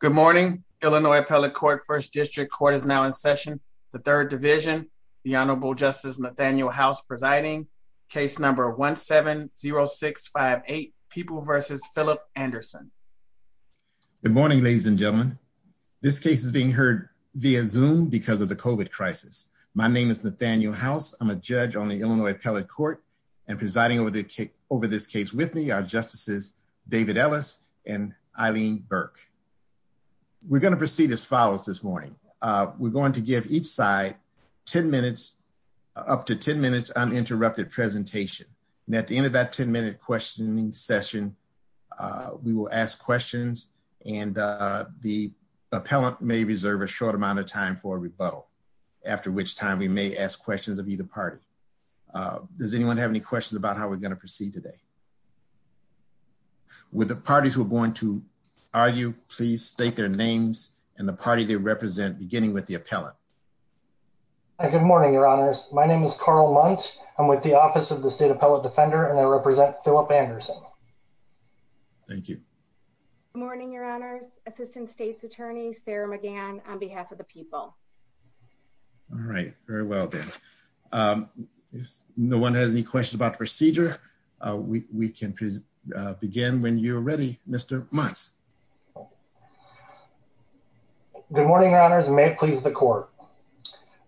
Good morning. Illinois Appellate Court First District Court is now in session. The Third Division, the Honorable Justice Nathaniel House presiding. Case number 1-7-0658, People v. Philip Anderson. Good morning, ladies and gentlemen. This case is being heard via Zoom because of the COVID crisis. My name is Nathaniel House. I'm a judge on the Illinois Appellate Court and presiding over this case with me are Justices David Ellis and Eileen Burke. We're going to proceed as follows this morning. We're going to give each side 10 minutes, up to 10 minutes, uninterrupted presentation. At the end of that 10-minute questioning session, we will ask questions and the appellant may reserve a short amount of time for rebuttal, after which time we may ask questions of either party. Does anyone have any questions about how we're going to proceed today? Would the parties who are going to argue please state their names and the party they represent, beginning with the appellant. Good morning, Your Honors. My name is Carl Munch. I'm with the Office of the State Appellate Defender and I represent Philip Anderson. Thank you. Good morning, Your Honors. Assistant State's Attorney Sarah McGann on behalf of the people. All right, very well then. If no one has any questions about procedure, we can begin when you're ready, Mr. Munch. Good morning, Your Honors. May it please the Court.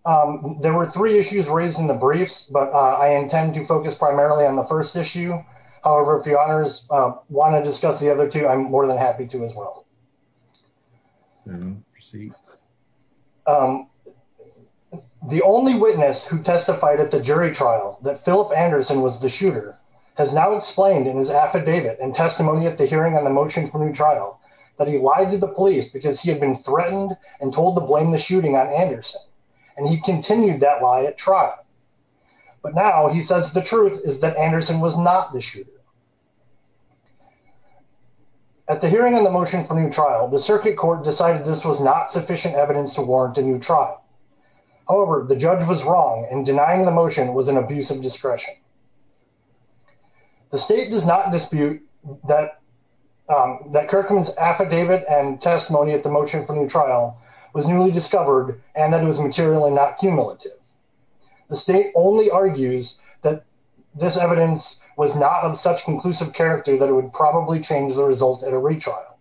There were three issues raised in the briefs, but I intend to focus primarily on the first issue. However, if the Honors want to discuss the other two, I'm more than happy to as well. The only witness who testified at the jury trial that Philip Anderson was the shooter has now explained in his affidavit and testimony at the hearing on the motion for new trial that he lied to the police because he had been threatened and told to blame the shooting on Anderson, and he continued that lie at trial. But now he says the truth is that Anderson was not the shooter. At the hearing in the motion for new trial, the circuit court decided this was not sufficient evidence to warrant a new trial. However, the judge was wrong in denying the motion was an abuse of discretion. The state does not dispute that Kirkman's affidavit and testimony at the motion for new trial was newly discovered and that it was material and not cumulative. The state only argues that this evidence was not of such conclusive character that it would probably change the result at a retrial.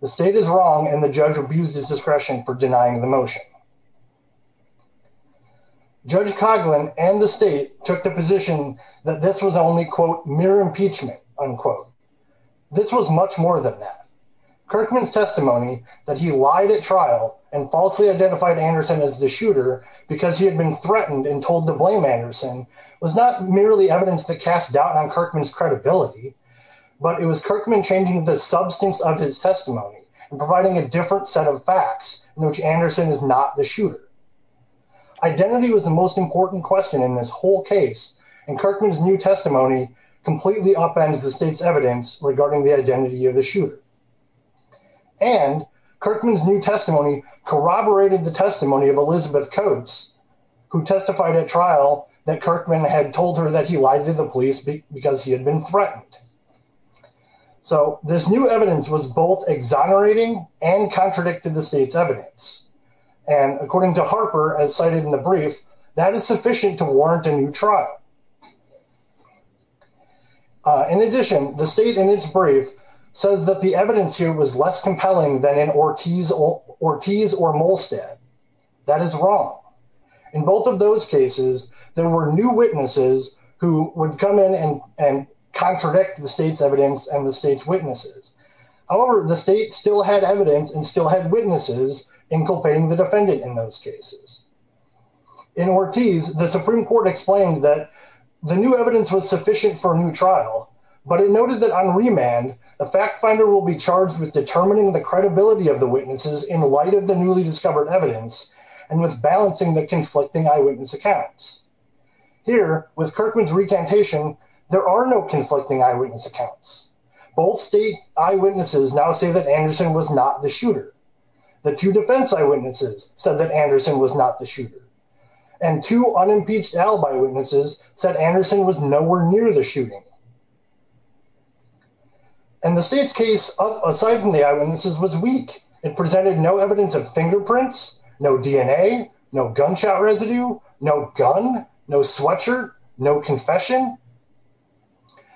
The state is wrong and the judge abused his discretion for denying the motion. Judge Coghlan and the state took the position that this was only quote mere impeachment unquote. This was much more than that. Kirkman's testimony that he lied at trial and falsely identified Anderson as the shooter because he had been threatened and told to blame Anderson was not merely evidence to cast doubt on Kirkman's credibility, but it was Kirkman changing the substance of his testimony and providing a different set of facts in which Anderson is not the shooter. Identity was the most important question in this whole case and Kirkman's new testimony completely offends the state's evidence regarding the identity of the shooter. And Kirkman's testimony corroborated the testimony of Elizabeth Coates who testified at trial that Kirkman had told her that he lied to the police because he had been threatened. So this new evidence was both exonerating and contradicting the state's evidence and according to Harper as cited in the brief, that is sufficient to warrant a new trial. In addition, the state in its brief says that the Ortiz or Molstad, that is wrong. In both of those cases, there were new witnesses who would come in and and contradict the state's evidence and the state's witnesses. However, the state still had evidence and still had witnesses in culpating the defendant in those cases. In Ortiz, the Supreme Court explained that the new evidence was sufficient for a new trial, but it noted that on remand the fact finder will be charged with determining the credibility of the state in light of the newly discovered evidence and with balancing the conflicting eyewitness accounts. Here, with Kirkman's recantation, there are no conflicting eyewitness accounts. Both state eyewitnesses now say that Anderson was not the shooter. The two defense eyewitnesses said that Anderson was not the shooter. And two unimpeached alibi witnesses said Anderson was nowhere near the shooter. And the state's case, aside from the eyewitnesses, was weak. It presented no evidence of fingerprints, no DNA, no gunshot residue, no gun, no sweatshirt, no confession.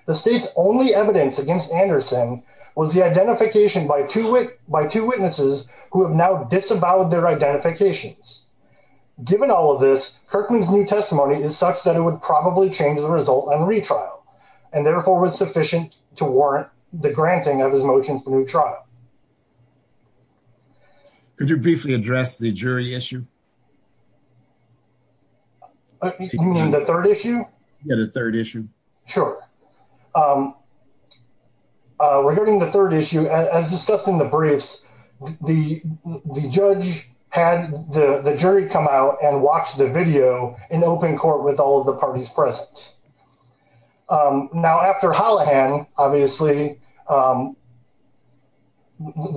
The state's only evidence against Anderson was the identification by two witnesses who have now disavowed their identifications. Given all of this, Kirkman's new testimony is such that it would probably change the result on retrial and therefore was sufficient to Could you briefly address the jury issue? The third issue? Yeah, the third issue. Sure. Regarding the third issue, as discussed in the briefs, the judge had the jury come out and watch the video in open court with all of the parties present. Now, after Hollihan, obviously, the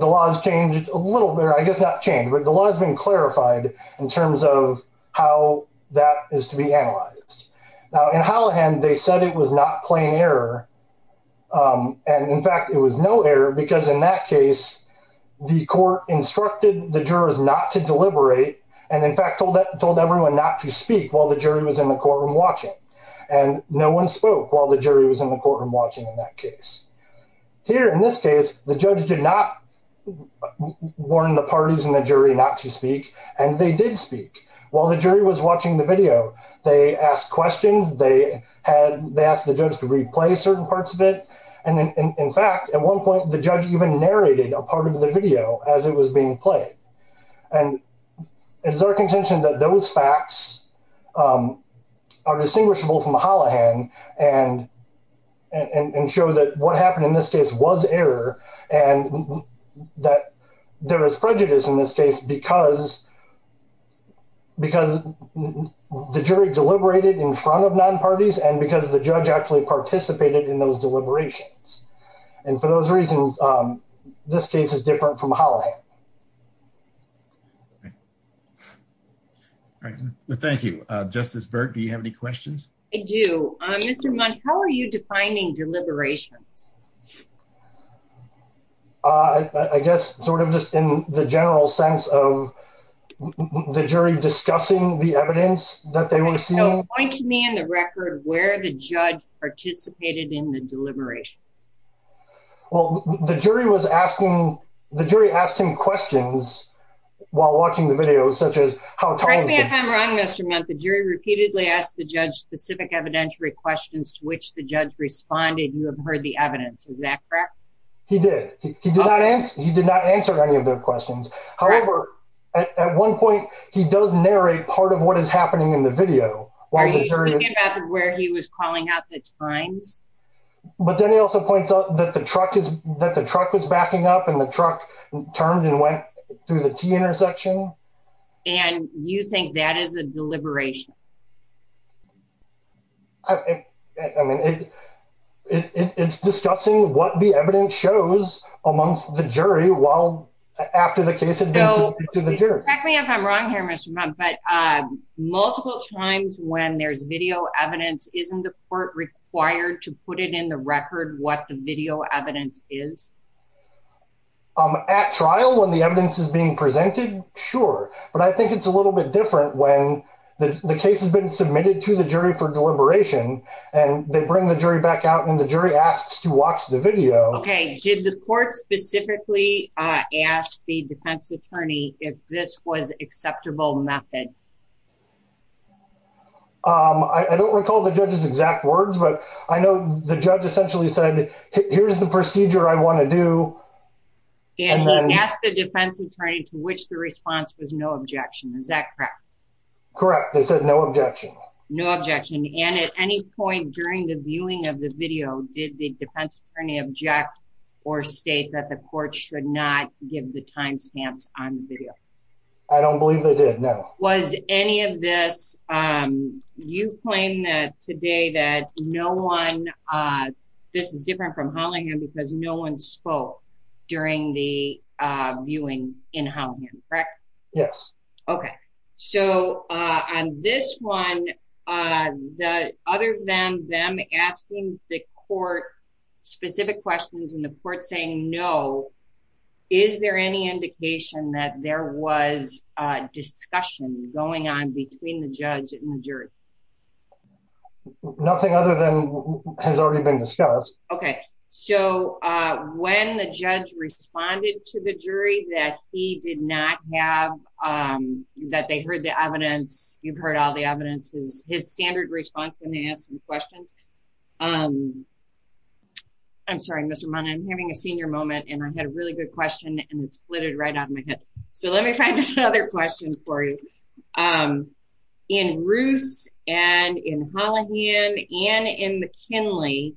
law has changed a little bit, I guess not changed, but the law has been clarified in terms of how that is to be analyzed. Now, in Hollihan, they said it was not plain error. And in fact, it was no error because in that case, the court instructed the jurors not to deliberate and in fact told everyone not to speak while the jury was in the courtroom watching. And no one spoke while the jury was in the courtroom watching in that case. Here, in this case, the judge did not warn the parties in the jury not to speak, and they did speak while the jury was watching the video. They asked questions, they asked the judge to replay certain parts of it. And in fact, at one point, the judge even narrated a part of the video as it was being played. And it is our contention that those facts are distinguishable from Hollihan and show that what happened in this case was error and that there was prejudice in this case because because the jury deliberated in front of non-parties and because the judge actually participated in those deliberations. And for those reasons, this case is different from Hollihan. Thank you. Justice Berg, do you have any questions? I do. Mr. Munch, how are you defining deliberation? I guess sort of just in the general sense of the jury discussing the evidence that they were seeing. So, point to me on the record where the judge participated in the deliberation. Well, the jury was asking, the jury asked him questions while watching the video, such as how time... I think I'm wrong, Mr. Munch. The jury repeatedly asked the judge specific evidentiary questions to which the judge responded, you have heard the evidence. Is that correct? He did. He did not answer any of those questions. However, at one point, he does narrate part of what is happening in the video. Are you talking about where he was calling out the times? But then he also points out that the truck is backing up and the truck turned and went through the T-intersection. And you think that is a deliberation? It's discussing what the evidence shows amongst the jury while after the case had been submitted to the jury. Correct me if I'm wrong here, Mr. Munch, but multiple times when there's video evidence, isn't the court required to put it in the record what the video evidence is? At trial, when the evidence is being presented, sure. But I think it's a little bit different when the case has been submitted to the jury for deliberation and they bring the jury back out when the jury asks to watch the video. Okay. Did the court specifically ask the defense attorney if this was acceptable method? I don't recall the judge's exact words, but I know the judge essentially said, here's the procedure I want to do. And ask the defense attorney to which the response was no objection. Is that correct? Correct. They said no objection. No objection. And at any point during the viewing of the video, did the defense attorney object or state that the court should not give the time stamps on the video? I don't believe they did, no. Was any of this, you claim that today that no one, this is different from Hollingham because no one spoke during the viewing in Hollingham, correct? Yes. Okay. So on this one, other than them asking the court specific questions and the court saying no, is there any indication that there was a discussion going on between the judge and the jury? Nothing other than has already been discussed. Okay. So when the judge responded to the jury that he did not have, that they heard the evidence, you've heard all the evidence, his standard response when they ask him questions. I'm sorry, Mr. Monahan, I'm having a senior moment and I had a really good question and it splitted right out of my head. So let me try this other question for you. In Ruth and in Hollingham and in McKinley,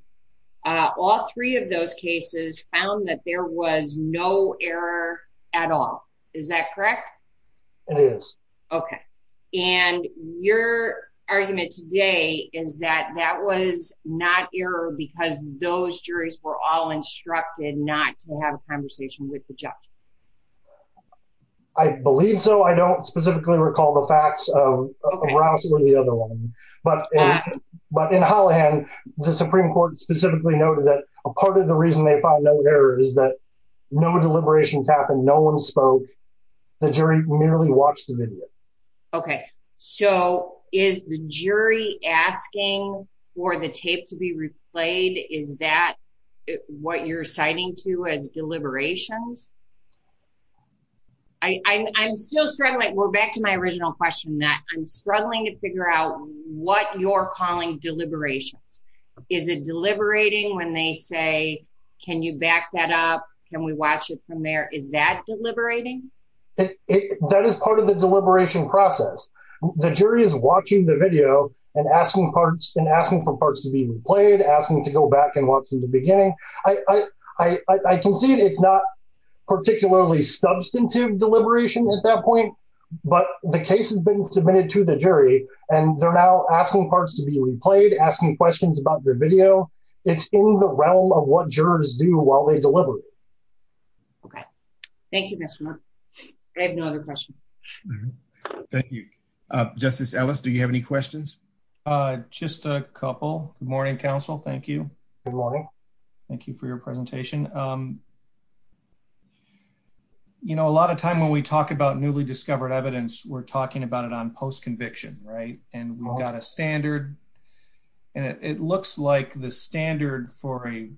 all three of those cases found that there was no error at all. Is that correct? It is. Okay. And your argument today is that that was not error because those juries were all instructed not to have a conversation with the judge. I believe so. I don't specifically recall the facts of the other one, but in Hollingham, the Supreme Court specifically noted that a part of the reason they find that error is that no deliberations happened. No one spoke. The jury merely watched the video. Okay. So is the jury asking for the tape to be replayed? Is that what you're citing to a deliberations? I'm still struggling. We're back to my original question that I'm struggling to figure out what you're calling deliberations. Is it deliberating when they say, can you back that up? Can we watch it from there? Is that deliberating? That is part of the deliberation process. The jury is watching the video and asking for parts to be replayed, asking to go back and watch from the beginning. I can see it's not particularly substantive deliberations at that point, but the case has been submitted to the jury, and they're now asking parts to be replayed, asking questions about the video. It's in the realm of what jurors do while they deliberate. Okay. Thank you, Mr. Murphy. I have no other questions. Thank you. Justice Ellis, do you have any questions? Just a couple. Good morning, counsel. Thank you. Good morning. Thank you for your presentation. A lot of time when we talk about newly discovered evidence, we're talking about it on post-conviction, and we've got a standard. And it looks like the standard for a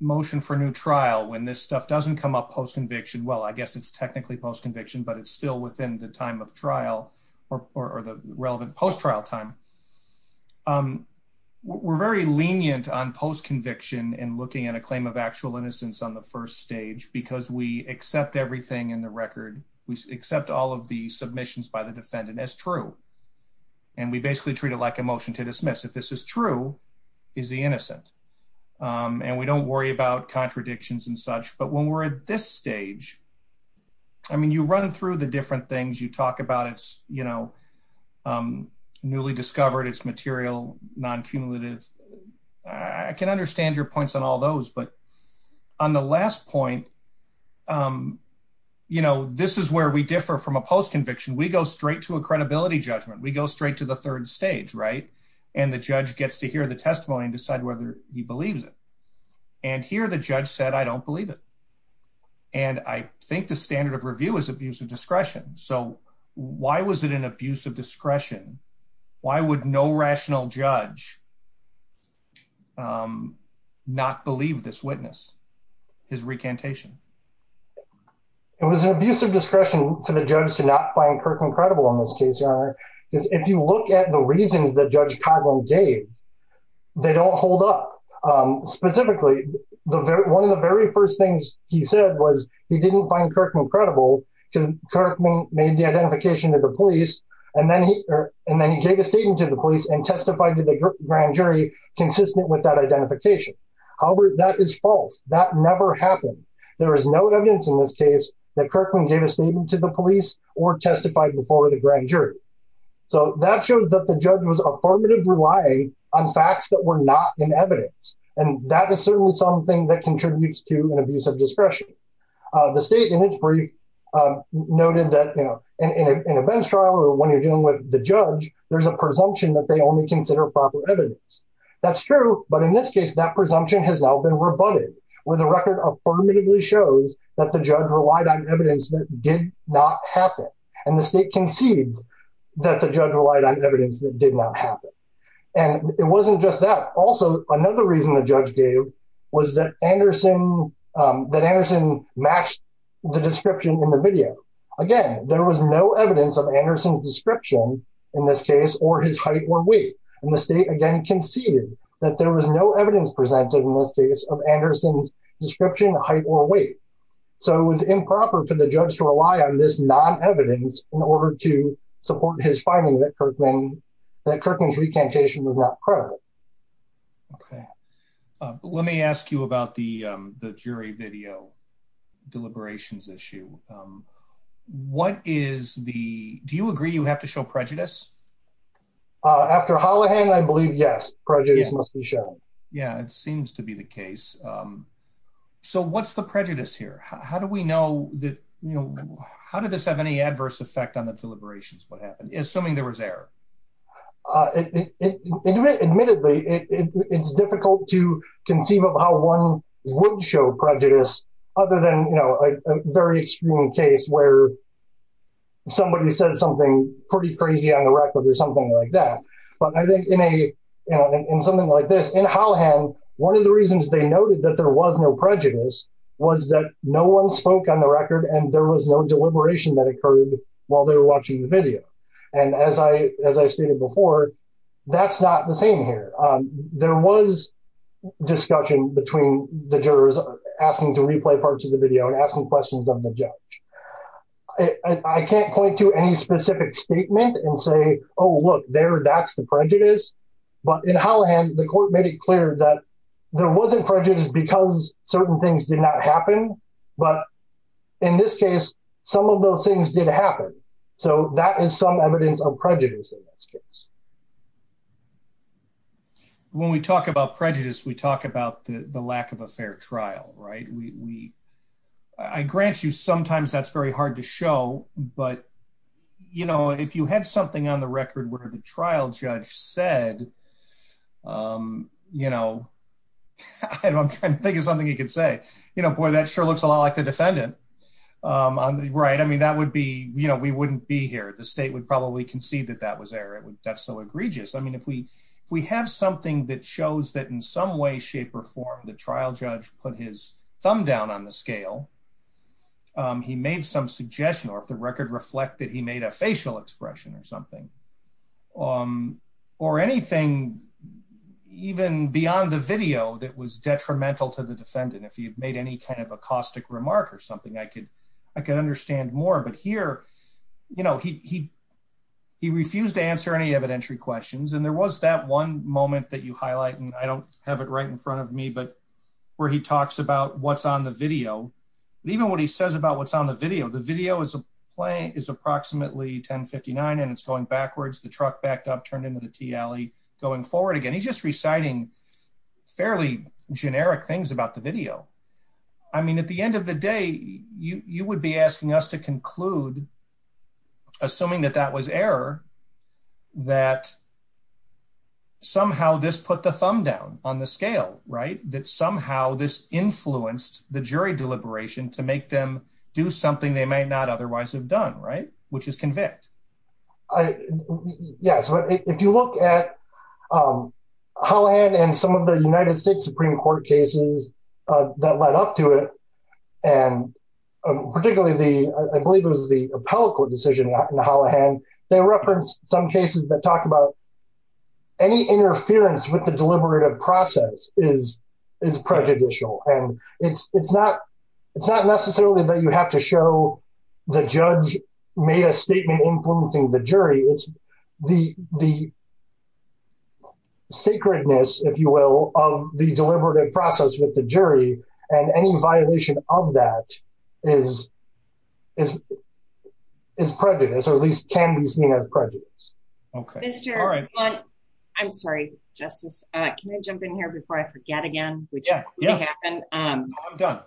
motion for new trial, when this stuff doesn't come up post-conviction, well, I guess it's technically post-conviction, but it's still within the time of trial or the relevant post-trial time. We're very lenient on post-conviction and looking at a claim of actual innocence on the first stage because we accept everything in the record. We accept all of the submissions by the defendant as true. And we basically treat it like a motion to dismiss. If this is true, is he innocent? And we don't worry about contradictions and such. But when we're at this stage, I mean, you run through the different things. You talk about it's, you know, newly discovered, it's material, non-cumulative. I can understand your points on all those, but on the last point, you know, this is where we differ from a post-conviction. We go straight to a credibility judgment. We go straight to the third stage, right? And the judge gets to hear the testimony and decide whether he believes it. And here the judge said, I don't believe it. And I think the standard of review is abuse of discretion. So why was it an abuse of discretion? Why would no rational judge not believe this witness, his recantation? It was an abuse of discretion to the judge to not find Kirkman credible in this case, Your Honor. If you look at the reasons that Judge Coghlan gave, they don't hold up. Specifically, one of the very first things he said was he didn't find Kirkman credible because Kirkman made the identification to the police and then he gave a statement to the police and testified to the group that he did not find Kirkman credible. He testified before the grand jury consistent with that identification. However, that is false. That never happened. There is no evidence in this case that Kirkman gave a statement to the police or testified before the grand jury. So that shows that the judge was affirmatively relying on facts that were not in evidence. And that is certainly something that contributes to an abuse of discretion. The state in its brief noted that, you know, in a bench trial or when you're dealing with the judge, there's a presumption that they only consider proper evidence. That's true. But in this case, that presumption has now been rebutted, where the record affirmatively shows that the judge relied on evidence that did not happen. And the state conceived that the judge relied on evidence that did not happen. And it wasn't just that. Also, another reason the judge gave was that Anderson matched the description in the video. Again, there was no evidence of Anderson's description in this case or his height or weight. And the state again conceded that there was no evidence presented in this case of Anderson's description, height, or weight. So it was improper for the judge to rely on this non-evidence in order to support his finding that Kirkman's recantation was not correct. Let me ask you about the jury video deliberations issue. What is the... Do you agree you have to show prejudice? After Hollihan, I believe, yes, prejudice must be shown. Yeah, it seems to be the case. So what's the prejudice here? How do we know that, you know, how did this have any adverse effect on the deliberations, what happened, assuming there was error? Admittedly, it's difficult to conceive of how one would show prejudice, other than, you know, a very extreme case where somebody said something pretty crazy on the record or something like that. But I think in something like this, in Hollihan, one of the reasons they noted that there was no prejudice was that no one spoke on the record and there was no deliberation that occurred while they were watching the video. And as I stated before, that's not the same here. There was discussion between the jurors asking to replay parts of the video and asking questions of the judge. I can't point to any specific statement and say, oh, look, there, that's the prejudice. But in Hollihan, the court made it clear that there wasn't prejudice because certain things did not happen. But in this case, some of those things did happen. So that is some evidence of prejudice in this case. When we talk about prejudice, we talk about the lack of a fair trial, right? We, I grant you, sometimes that's very hard to show. But, you know, if you had something on the record where the trial judge said, you know, I'm thinking of something he could say, you know, boy, that sure looks a lot like the defendant. Right. I mean, that would be, you know, we wouldn't be here. The state would probably concede that that was there. That's so egregious. I mean, if we have something that shows that in some way, shape, or form, the trial judge put his thumb down on the scale, he made some suggestion, or if the record reflected he made a facial expression or something, or anything even beyond the video that was detrimental to the defendant, if he had made any kind of a caustic remark or something, I could understand more. But here, you know, he refused to answer any evidentiary questions. And there was that one moment that you highlight, and I don't have it right in front of me, but where he talks about what's on the video, even what he says about what's on the video. The video is approximately 1059 and it's going backwards, the truck backed up, turned into the tea alley, going forward again. He's just reciting fairly generic things about the video. I mean, at the end of the day, you would be asking us to conclude, assuming that that was error, that somehow this put the thumb down on the scale, right, that somehow this influenced the jury deliberation to make them do something they may not otherwise have done, right, which is convict. I, yeah, so if you look at the plan and some of the United States Supreme Court cases that led up to it, and particularly the, I believe it was the appellate court decision in the Holohan, they referenced some cases that talk about any interference with the deliberative process is prejudicial. And it's not necessarily that you have to show the judge made a statement influencing the jury, it's the sacredness, if you will, of the deliberative process with the jury and any violation of that is prejudice, or at least can be seen as prejudice. I'm sorry, Justice, can I jump in here before I forget again? Yeah, I'm done.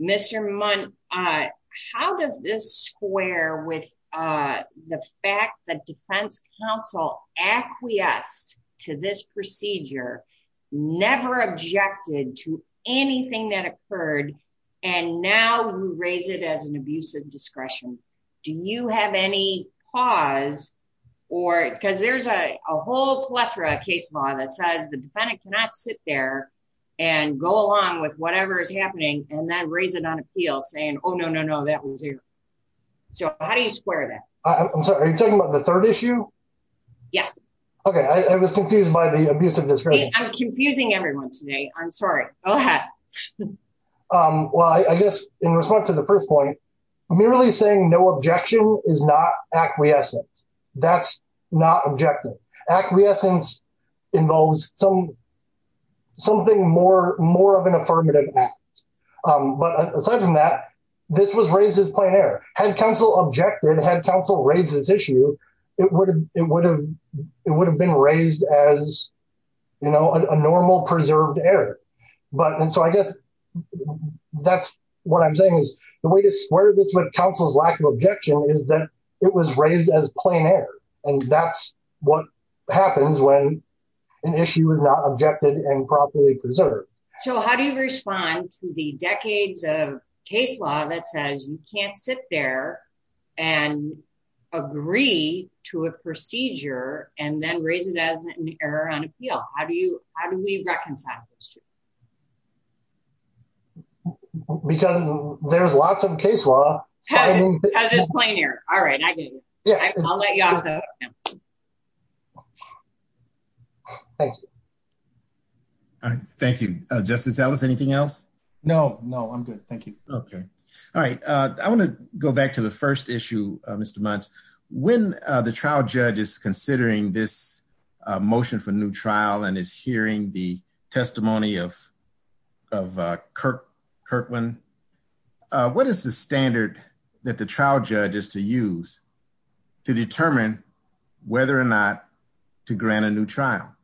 Mr. Muntz, how does this square with the fact that defense counsel acquiesced to this procedure, never objected to anything that occurred, and now you raise it as an abuse of discretion. Do you have any pause? Or, because there's a whole plethora of case law that says the defendant cannot sit there and go along with whatever is happening, and then raise it on appeal saying, oh, no, no, no, that was it. So how do you square that? I'm sorry, are you talking about the third issue? Yes. Okay, I was confused by the abuse of discretion. I'm confusing everyone today. I'm sorry. Go ahead. Well, I guess, in response to the first point, I'm merely saying no objection is not acquiescence. That's not objective. Acquiescence involves something more of an affirmative act. But aside from that, this was raised as plain error. Had counsel objected, had counsel raised this issue, it would have been raised as a normal, preserved error. But, and so I guess that's what I'm saying is, the way to square this with counsel's lack of objection is that it was raised as plain error. And that's what happens when an issue is not objected and properly preserved. So how do you respond to the decades of case law that says you can't sit there and agree to a procedure and then raise it as an error on appeal? How do you, how do we reconcile this? Because there's lots of case law. As a plain error. All right, I get it. I'll let you off the hook then. Thank you. Thank you. Justice Ellis, anything else? No, no, I'm good. Thank you. Okay. All right. I want to go back to the first issue, Mr. Muntz. When the trial judge is considering this motion for new trial and is hearing the testimony of Kirkland, what is the standard that the trial judge is to use to determine whether or not to grant a new trial?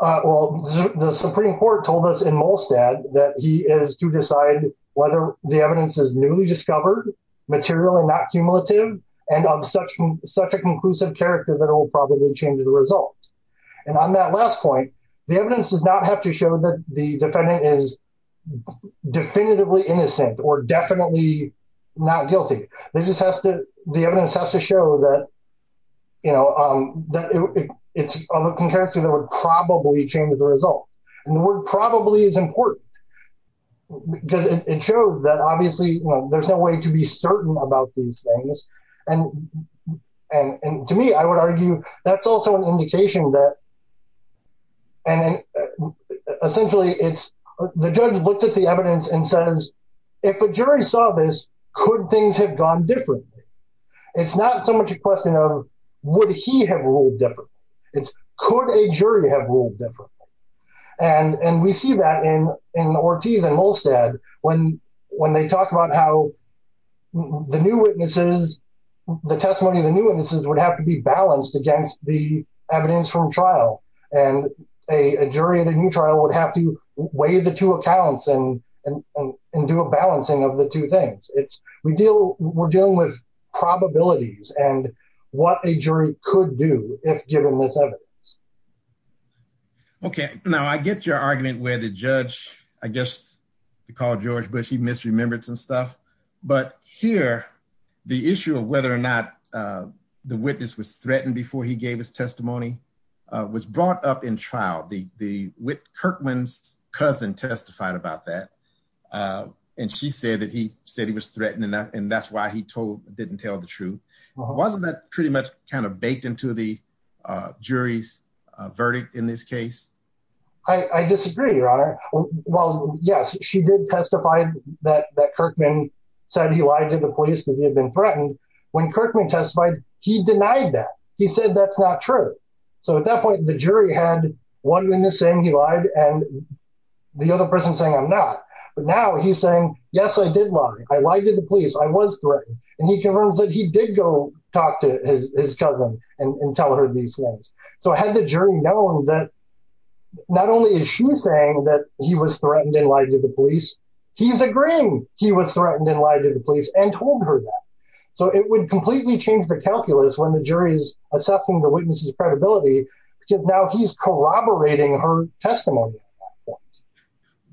Well, the Supreme Court told us in Molstad that he is to decide whether the evidence is newly discovered, material and not cumulative, and on such a conclusive character that it will probably change the results. And on that last point, the evidence does not have to show that the defendant is definitively innocent or definitely not guilty. The evidence has to show that, you know, that it's a looking character that would probably change the results. And the word probably is important because it shows that obviously, you know, there's no way to be certain about these things. And to me, I would argue that's also an indication that essentially it's the judge looks at the evidence and says, if the jury saw this, could things have gone differently? It's not so much a question of would he have ruled differently. It's could a jury have ruled differently? And we see that in Ortiz and Molstad when they talk about how the new witnesses, the testimony of the new witnesses would have to be balanced against the evidence from trial. And a jury in a new trial would have to weigh the two accounts and do a balancing of the two things. We're dealing with probabilities and what a jury could do if given this evidence. Okay, now I get your argument where the judge, I guess, he called George Bush, he misremembered some stuff. But here, the issue of whether or not the witness was threatened before he gave his testimony was brought up in trial. Kirkland's cousin testified about that. And she said that he said he was threatened and that's why he didn't tell the truth. Wasn't that pretty much kind of baked into the jury's verdict in this case? I disagree, your honor. Well, yes, she did testify that Kirkman said he lied to the police because he had been threatened. When Kirkman testified, he denied that. He said that's not true. So at that point, the jury had one witness saying he lied and the other person saying I'm not. But now he's saying, yes, I did lie. I lied to the police. I was threatened. And he confirmed that he did go talk to his cousin and tell her these things. So had the jury known that not only is she saying that he was threatened and lied to the police, he's agreeing he was threatened and lied to the police and told her that. So it would completely change the calculus when the jury is accepting the witness's credibility because now he's corroborating her testimony.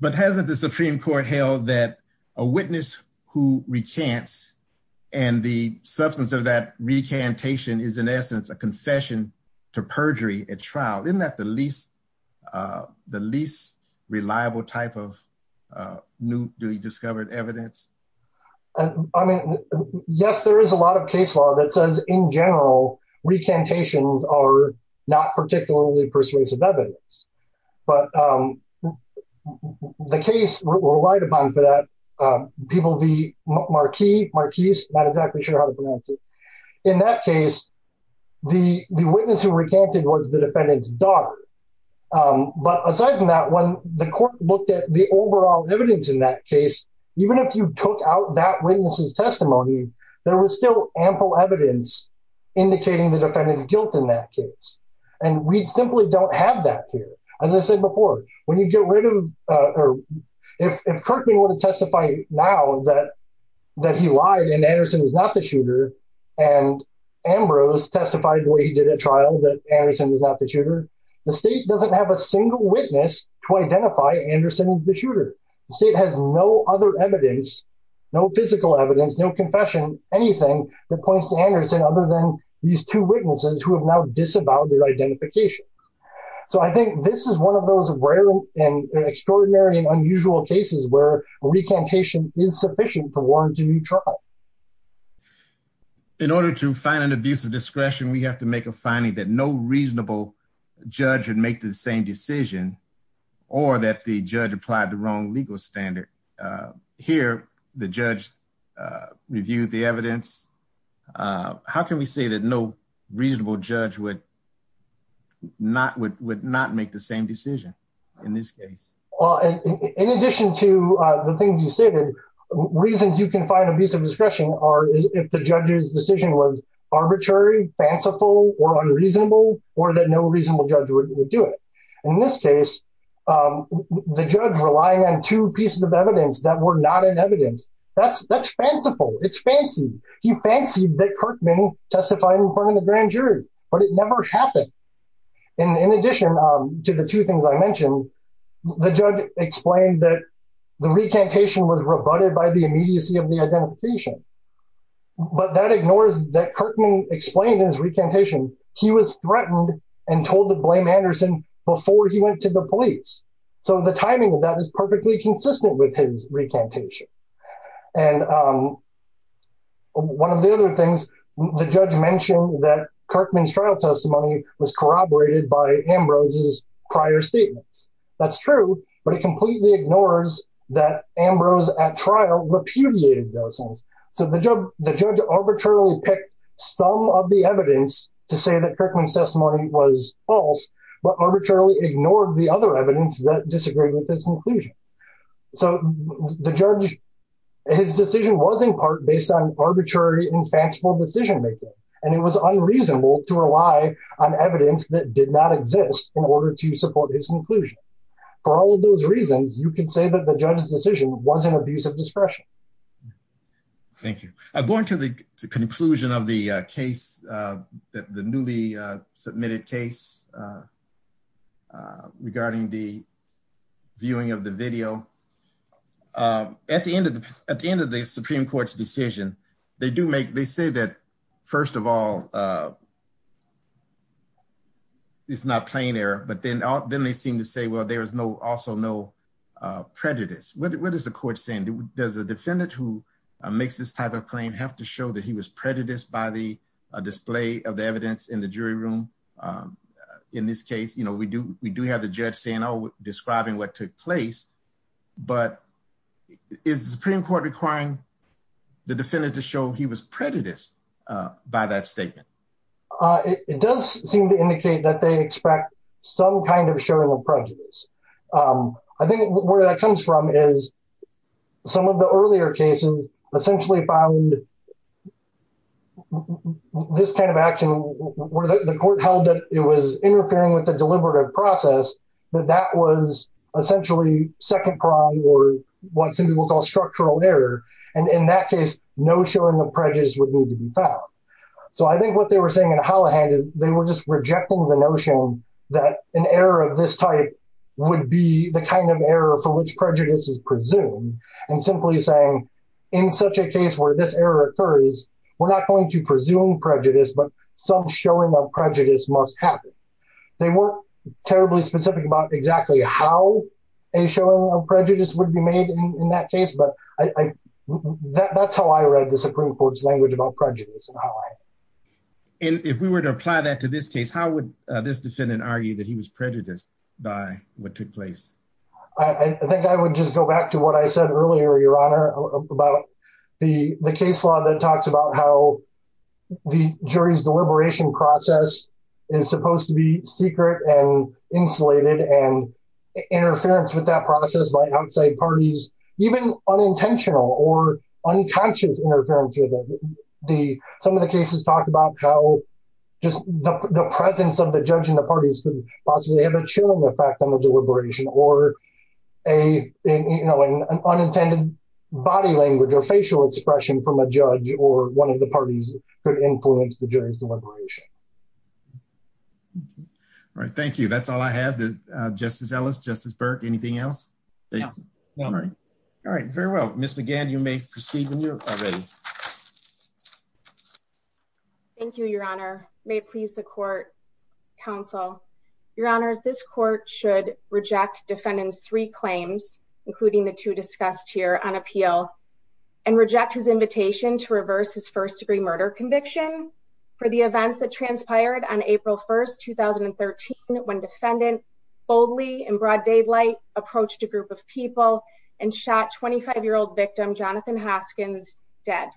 But hasn't the Supreme Court held that a witness who recants and the substance of that recantation is, in essence, a confession to perjury at trial? Isn't that the least reliable type of newly discovered evidence? I mean, yes, there is a lot of case law that says, in general, recantations are not particularly persuasive evidence. But the case relied upon that. People, the marquee, marquis, not exactly sure how to pronounce it. In that case, the witness who recanted was the defendant's daughter. But aside from that, when the court looked at the overall evidence in that case, even if you took out that witness's testimony, there was still ample evidence indicating the defendant was not the shooter. The state has no other evidence, no physical evidence, no confession, anything that points to Anderson other than these two witnesses who have now disavowed their identification. So I think this is one of those rare and extraordinary and unusual cases where recantation is sufficient for warranting new trial. In order to find an abuse of discretion, we have to make a finding that no reasonable judge would make the same decision or that the judge applied the wrong legal standard. Here, the judge reviewed the evidence. How can we say that no reasonable judge would not make the same decision in this case? In addition to the things you stated, reasons you can find abuse of discretion are if the judge's decision was arbitrary, fanciful, or unreasonable, or that no reasonable judge would do it. In this case, the judge relied on two pieces of evidence that were not in evidence. That's fanciful. He fancied that Kirkman testified in front of the grand jury, but it never happened. In addition to the two things I mentioned, the judge explained that the recantation was rebutted by the immediacy of the identification, but that ignores that Kirkman explained his recantation. He was threatened and told to blame Anderson before he went to the police. The timing of that is perfectly consistent with his recantation. One of the other things, the judge mentioned that Kirkman's trial testimony was corroborated by Ambrose's prior statements. That's true, but it completely ignores that Ambrose at trial repudiated those things. The judge arbitrarily picked some of the evidence to say that Kirkman's testimony was false, but arbitrarily ignored the other evidence that disagreed with this conclusion. The judge, his decision was in part based on arbitrary and fanciful decision-making, and it was unreasonable to rely on evidence that did not exist in order to support his conclusion. For all of those reasons, you can say that the judge's decision was an abuse of discretion. Thank you. I'm going to the conclusion of the case, the newly submitted case regarding the viewing of the video. At the end of the Supreme Court's decision, they say that, first of all, it's not plain error, but then they seem to say, well, there's also no prejudice. What is the court saying? Does the defendant who makes this type of claim have to show that he was prejudiced by the display of the evidence in the jury room? In this case, we do have the judge describing what took place, but is the Supreme Court requiring the defendant to show he was prejudiced by that statement? It does seem to indicate that they expect some kind of showing of prejudice. I think where that comes from is some of the earlier cases essentially found this kind of action where the court held that it was interfering with the deliberative process, but that was essentially second-prime or what some people call structural error. In that case, no showing of prejudice would need to be found. I think what they were saying in would be the kind of error for which prejudice is presumed and simply saying, in such a case where this error occurs, we're not going to presume prejudice, but some showing of prejudice must happen. They weren't terribly specific about exactly how a showing of prejudice would be made in that case, but that's how I read the Supreme Court's language about prejudice. If we were to apply that to this case, how would this defendant argue that he was prejudiced by what took place? I think I would just go back to what I said earlier, Your Honor, about the case law that talks about how the jury's deliberation process is supposed to be secret and insulated and interference with that process by outside parties, even unintentional or unconscious interference. Some of the cases talk about how just the presence of the judge in the parties could possibly have a chilling effect on the deliberation or an unintended body language or facial expression from a judge or one of the parties could influence the jury's deliberation. All right. Thank you. That's all I have. Justice Ellis, Justice Burke, anything else? All right. Very well. Ms. McGann, you may proceed when you're ready. Thank you, Your Honor. May it please the court, counsel. Your Honor, this court should reject defendant's three claims, including the two discussed here on appeal, and reject his invitation to reverse his first-degree murder conviction for the events that transpired on April 1, 2013, when defendant boldly in broad daylight approached a group of people and shot 25-year-old victim Jonathan Hoskins dead.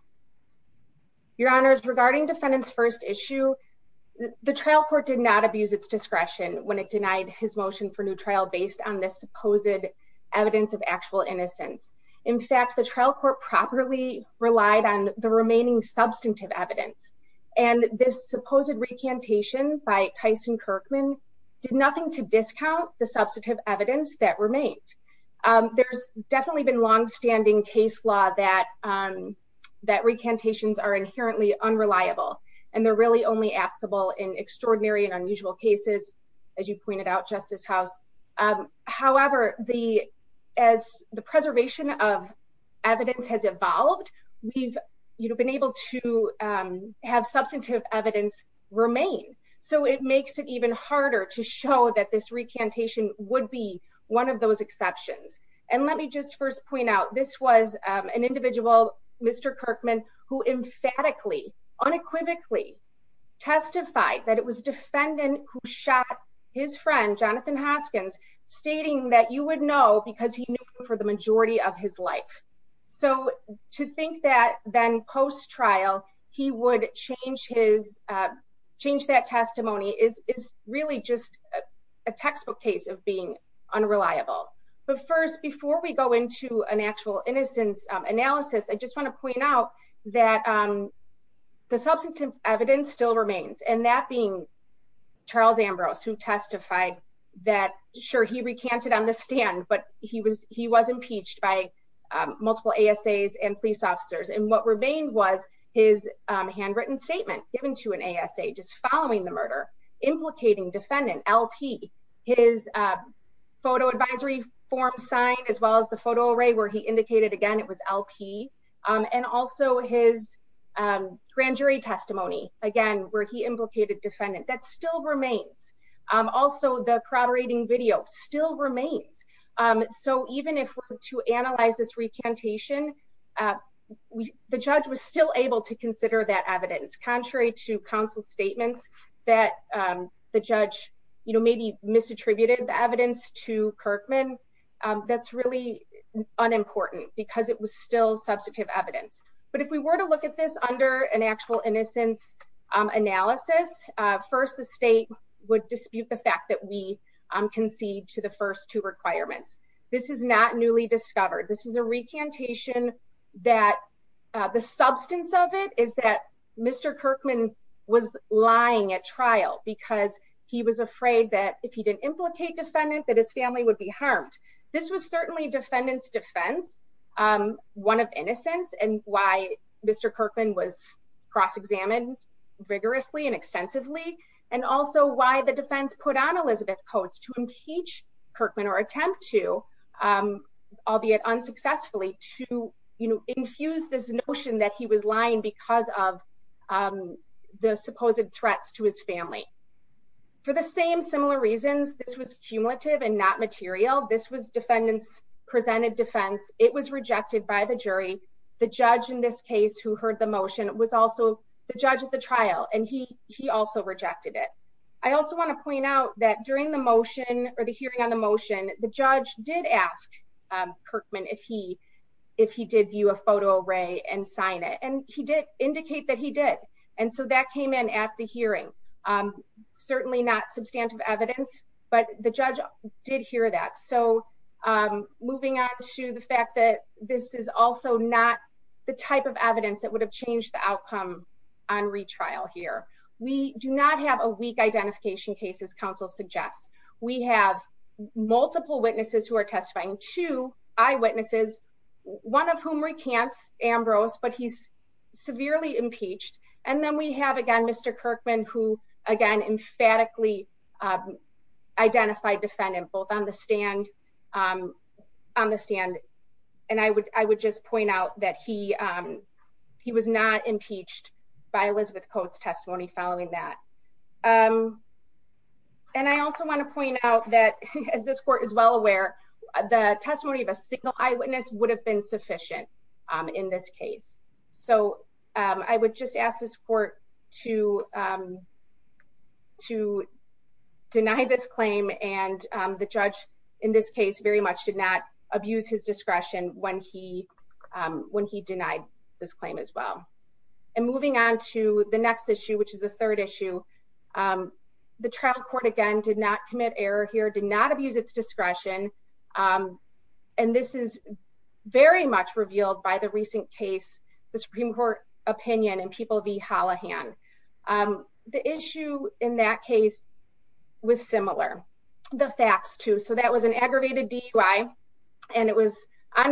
Your Honor, regarding defendant's first issue, the trial court did not abuse its discretion when it denied his motion for new trial based on the supposed evidence of actual innocence. In fact, the trial court properly relied on the remaining substantive evidence, and this supposed recantation by Tyson Kirkman did nothing to discount the substantive evidence that remains. There's definitely been long-standing case law that recantations are inherently unreliable, and they're really only applicable in extraordinary and unusual cases, as you pointed out, Justice House. However, as the preservation of evidence has evolved, we've been able to have substantive evidence remain, so it makes it even harder to show that this recantation would be one of those exceptions. And let me just first point out, this was an individual, Mr. Kirkman, who emphatically, unequivocally testified that it was defendant who shot his friend, Jonathan Hoskins, stating that you would know because he knew for the majority of his life. So to think that then post-trial he would change that testimony is really just a textbook case of being unreliable. But first, before we go into an actual innocence analysis, I just want to point out that the substantive evidence still remains, and that being Charles Ambrose, who testified that, sure, he recanted on the stand, but he was impeached by multiple ASAs and police officers, and what remained was his handwritten statement given to an ASA just following the murder implicating defendant L.P., his photo advisory form signed, as well as the photo array where he indicated, again, it was L.P., and also his grand jury testimony, again, where he implicated defendant. That still remains. Also, the corroborating video still remains. So even if we're to analyze this recantation, the judge was still able to consider that evidence. Contrary to counsel's statements that the judge, you know, maybe misattributed the evidence to Kirkman, that's really unimportant because it was still substantive evidence. But if we were to look at this under an actual innocence analysis, first the state would dispute the fact that we concede to the first two requirements. This is not newly discovered. This is a recantation that the substance of it is that Mr. Kirkman was lying at trial because he was afraid that if he didn't implicate defendant that his family would be harmed. This was certainly defendant's defense, one of innocence, and why Mr. Kirkman was cross-examined rigorously and extensively, and also why the defense put on Elizabeth Coates to impeach Kirkman or attempt to, albeit unsuccessfully, to, you know, infuse this notion that he was lying because of the supposed threats to his family. For the same similar reasons, this was cumulative and not material. This was defendant's presented defense. It was rejected by the jury. The judge in this case who heard the motion was also the judge at the trial, and he also rejected it. I also want to point out that during the motion or the hearing on the motion, the judge did ask Kirkman if he did view a photo array and sign it, and he did indicate that he did, and so that came in at the hearing. Certainly not substantive evidence, but the judge did hear that, so moving on to the fact that this is also not the type of evidence that would have changed the outcome on retrial here. We do not have a weak identification case, as counsel suggests. We have multiple witnesses who are testifying, two eyewitnesses, one of whom recants Ambrose, but he's severely impeached, and then we have, again, Mr. Kirkman, who, again, emphatically identified defendant both on the and I would just point out that he was not impeached by Elizabeth Cope's testimony following that, and I also want to point out that, as this court is well aware, the testimony of a single eyewitness would have been sufficient in this case, so I would just ask this court to deny this discretion when he denied this claim as well, and moving on to the next issue, which is the third issue, the trial court, again, did not commit error here, did not abuse its discretion, and this is very much revealed by the recent case, the Supreme Court opinion in People v.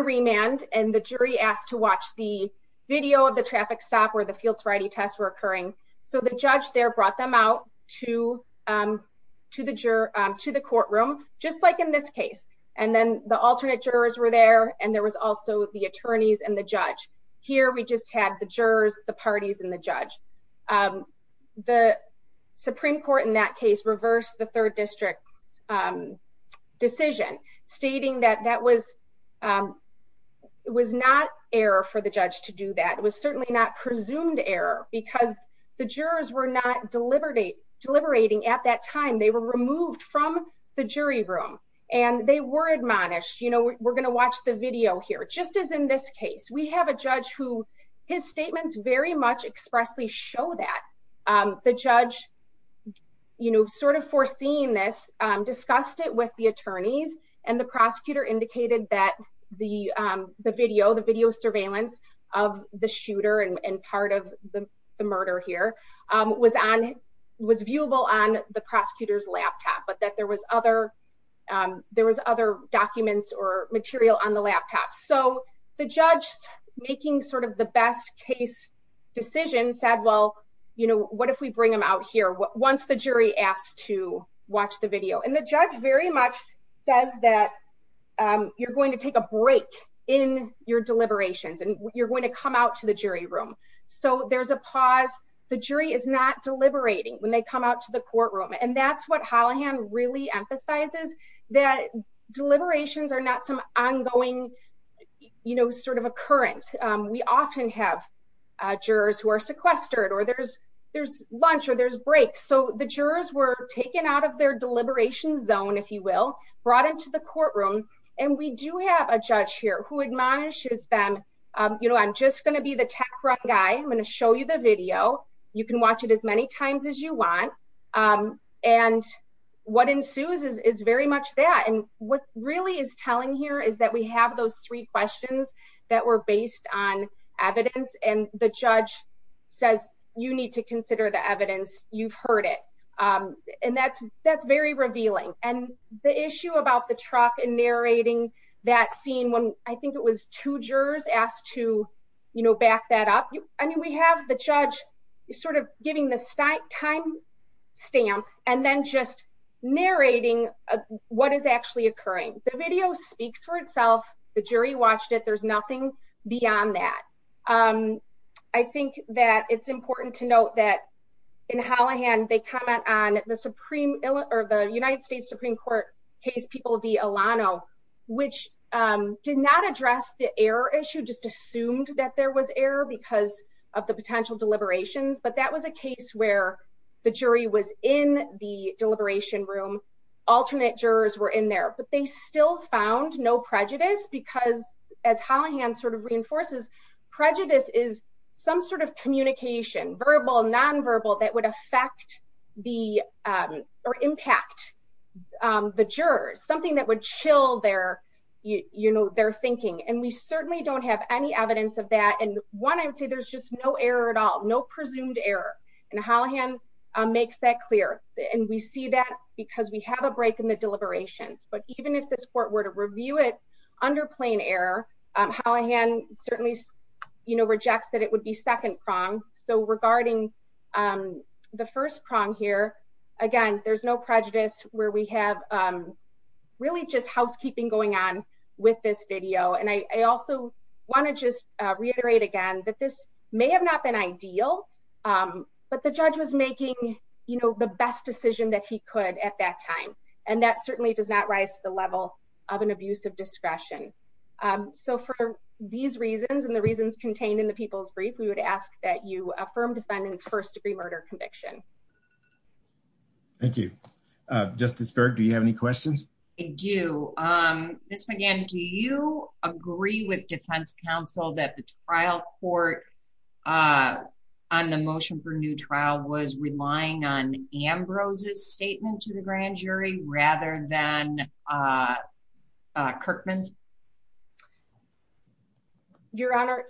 Remand, and the jury asked to watch the video of the traffic stop where the field sorority tests were occurring, so the judge there brought them out to the courtroom, just like in this case, and then the alternate jurors were there, and there was also the attorneys and the judge. Here, we just had the jurors, the parties, and the judge. The Supreme Court in that case reversed the third district decision, stating that that was not error for the judge to do that. It was certainly not presumed error, because the jurors were not deliberating at that time. They were removed from the jury room, and they were admonished, you know, we're going to watch the video here, just as in this case. We have a judge who, his statements very much expressly show that the judge, you know, sort of foreseeing this, discussed it with the attorneys, and the prosecutor indicated that the video, the video surveillance of the shooter and part of the murder here, was on, was viewable on the prosecutor's laptop, but that there was other, there was other documents or material on the laptop, so the judge, making sort of the best case decision, said, well, you know, what if we bring him out here once the jury asked to watch the video, and the judge very much says that you're going to take a break in your deliberations, and you're going to come out to the jury room, so there's a pause. The jury is not deliberating when they come out to the courtroom, and that's what Hollihan really emphasizes, that deliberations are not some ongoing, you know, sort of occurrence. We often have jurors who are sequestered, or there's there's lunch, or there's breaks, so the jurors were taken out of their deliberations zone, if you will, brought into the courtroom, and we do have a judge here who admonishes them, you know, I'm just going to be the tech front guy, I'm going to show you the video, you can watch it as many times as you want, and what ensues is very much that, and what really is telling here is that we have those three questions that were based on evidence, and the judge says, you need to consider the evidence, you've heard it, and that's very revealing, and the issue about the truck and narrating that scene, when I think it was two jurors asked to, you know, back that up, I mean, we have the judge sort of giving the time stamp, and then just narrating what is actually occurring. The video speaks for itself, the jury watched it, there's nothing beyond that. I think that it's important to note that in Hollihan, they comment on the Supreme, or the United States Supreme Court case people v. Alano, which did not address the error issue, just assumed that there was error because of the potential deliberations, but that was a case where the jury was in the deliberation room, alternate jurors were in there, but they still found no prejudice, because as Hollihan sort of reinforces, prejudice is some sort of communication, verbal, non-verbal, that would affect the, or impact the jurors, something that would chill their, you know, their thinking, and we there's just no error at all, no presumed error, and Hollihan makes that clear, and we see that because we have a break in the deliberation, but even if this court were to review it under plain error, Hollihan certainly, you know, rejects that it would be second prong, so regarding the first prong here, again, there's no prejudice, where we have really just may have not been ideal, but the judge was making, you know, the best decision that he could at that time, and that certainly does not rise to the level of an abuse of discretion, so for these reasons, and the reasons contained in the people's brief, we would ask that you affirm defendant's first degree murder conviction. Thank you. Justice Berg, do you have any questions? I do. Ms. McGinn, do you agree with defense counsel that the trial court on the motion for new trial was relying on Ambrose's statement to the grand jury rather than Kirkman's? Your Honor,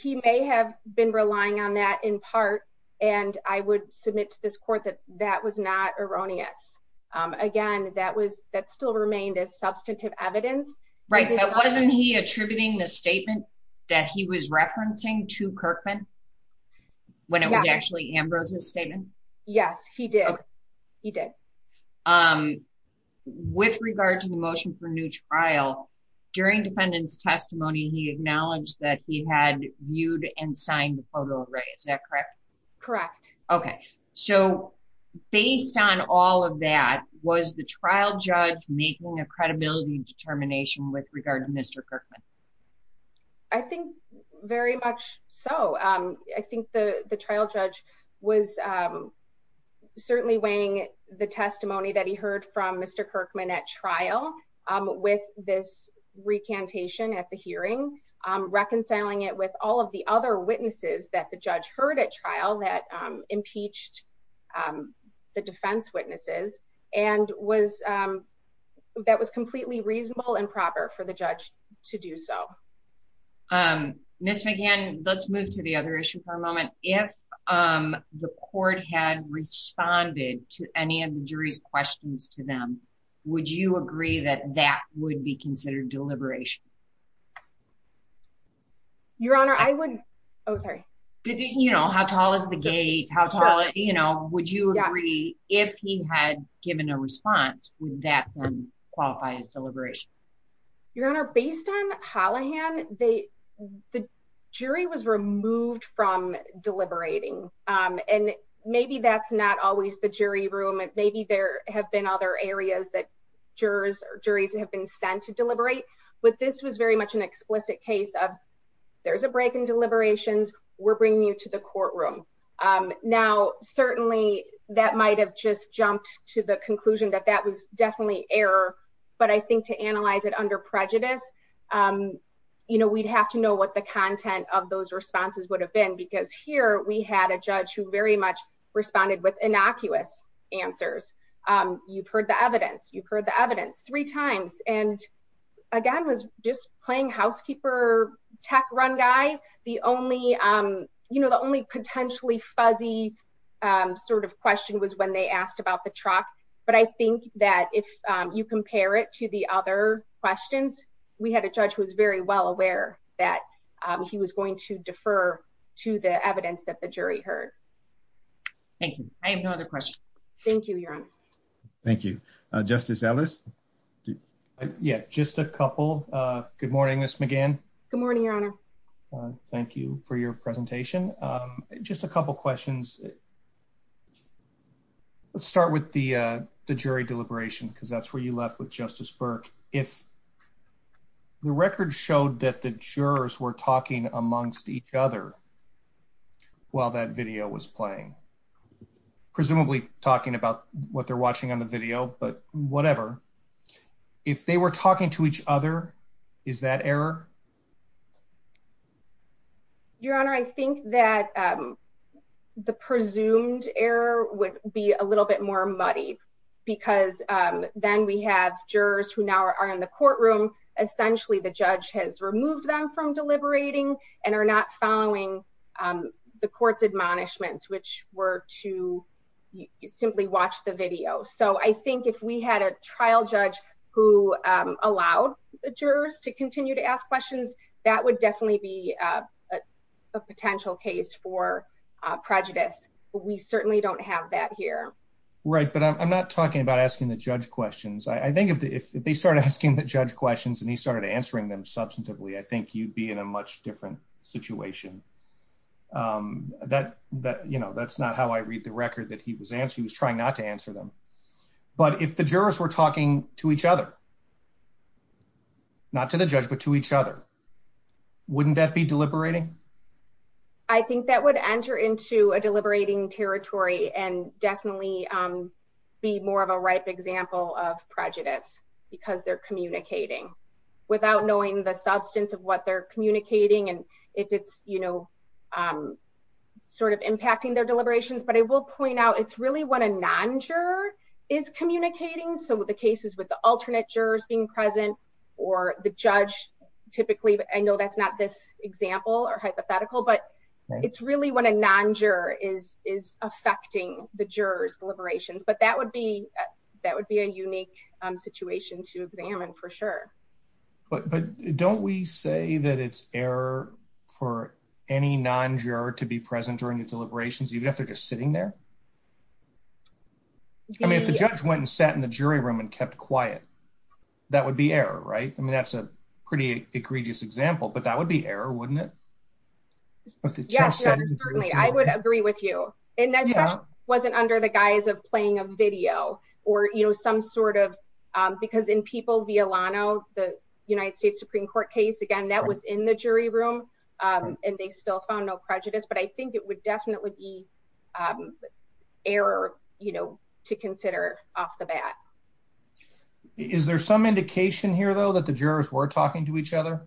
he may have been relying on that in part, and I would submit to this court that that was not erroneous. Again, that still remained as substantive evidence. Right. Wasn't he attributing the statement that he was referencing to Kirkman, when it was actually Ambrose's statement? Yes, he did. He did. With regard to the motion for new trial, during defendant's testimony, he acknowledged that he had viewed and signed the photo array. Is that correct? Correct. Based on all of that, was the trial judge making a credibility determination with regard to Mr. Kirkman? I think very much so. I think the trial judge was certainly weighing the testimony that he heard from Mr. Kirkman at trial with this witnesses that the judge heard at trial that impeached the defense witnesses, and that was completely reasonable and proper for the judge to do so. Ms. McGinn, let's move to the other issue for a moment. If the court had responded to any of the jury's questions to them, would you agree that that would be considered deliberation? Your Honor, I would... Oh, sorry. How tall is the gate? Would you agree, if he had given a response, would that then qualify as deliberation? Your Honor, based on Hollihan, the jury was removed from deliberating. Maybe that's not always the jury room. Maybe there have been other areas that jurors or juries have been sent to deliberate, but this was very much an explicit case of, there's a break in deliberations, we're bringing you to the courtroom. Now, certainly that might have just jumped to the conclusion that that was definitely error, but I think to analyze it under prejudice, we'd have to know what the content of those responses would have been, because here we had a judge who very much responded with answers. You've heard the evidence, you've heard the evidence three times, and again, was just playing housekeeper, tech run guy. The only potentially fuzzy sort of question was when they asked about the truck, but I think that if you compare it to the other questions, we had a judge who was very well aware that he was going to defer to the evidence that the jury heard. Thank you. I have no other questions. Thank you, Your Honor. Thank you. Justice Ellis? Yeah, just a couple. Good morning, Ms. McGann. Good morning, Your Honor. Thank you for your presentation. Just a couple questions. Let's start with the jury deliberation, because that's where you left with Justice Burke. If the record showed that the jurors were talking amongst each other while that video was playing, presumably talking about what they're watching on the video, but whatever, if they were talking to each other, is that error? Your Honor, I think that the presumed error would be a little bit more muddy, because then we have jurors who now are in the courtroom. Essentially, the judge has removed them from deliberating and are not following the court's admonishments, which were to simply watch the video. I think if we had a trial judge who allowed the jurors to continue to ask questions, that would definitely be a potential case for prejudice. We certainly don't have that here. Right, but I'm not talking about asking the judge questions. I think if they started asking the judge questions and he started answering them substantively, I think you'd be in a much different situation. That's not how I read the record that he was answering. He was trying not to answer them. But if the jurors were talking to each other, not to the judge, but to each other, wouldn't that be deliberating? I think that would enter into a be more of a ripe example of prejudice, because they're communicating without knowing the substance of what they're communicating and if it's sort of impacting their deliberations. But I will point out, it's really when a non-juror is communicating. So the cases with the alternate jurors being present or the judge, typically, I know that's not this example or but that would be a unique situation to examine, for sure. But don't we say that it's error for any non-juror to be present during the deliberations, even if they're just sitting there? I mean, if the judge went and sat in the jury room and kept quiet, that would be error, right? I mean, that's a pretty egregious example, but that would be error, wouldn't it? Yes, certainly. I would agree with you. And that wasn't under the guise of playing a video or some sort of, because in People v. Alano, the United States Supreme Court case, again, that was in the jury room and they still found no prejudice. But I think it would definitely be error to consider off the bat. Is there some indication here, though, that the jurors were talking to each other?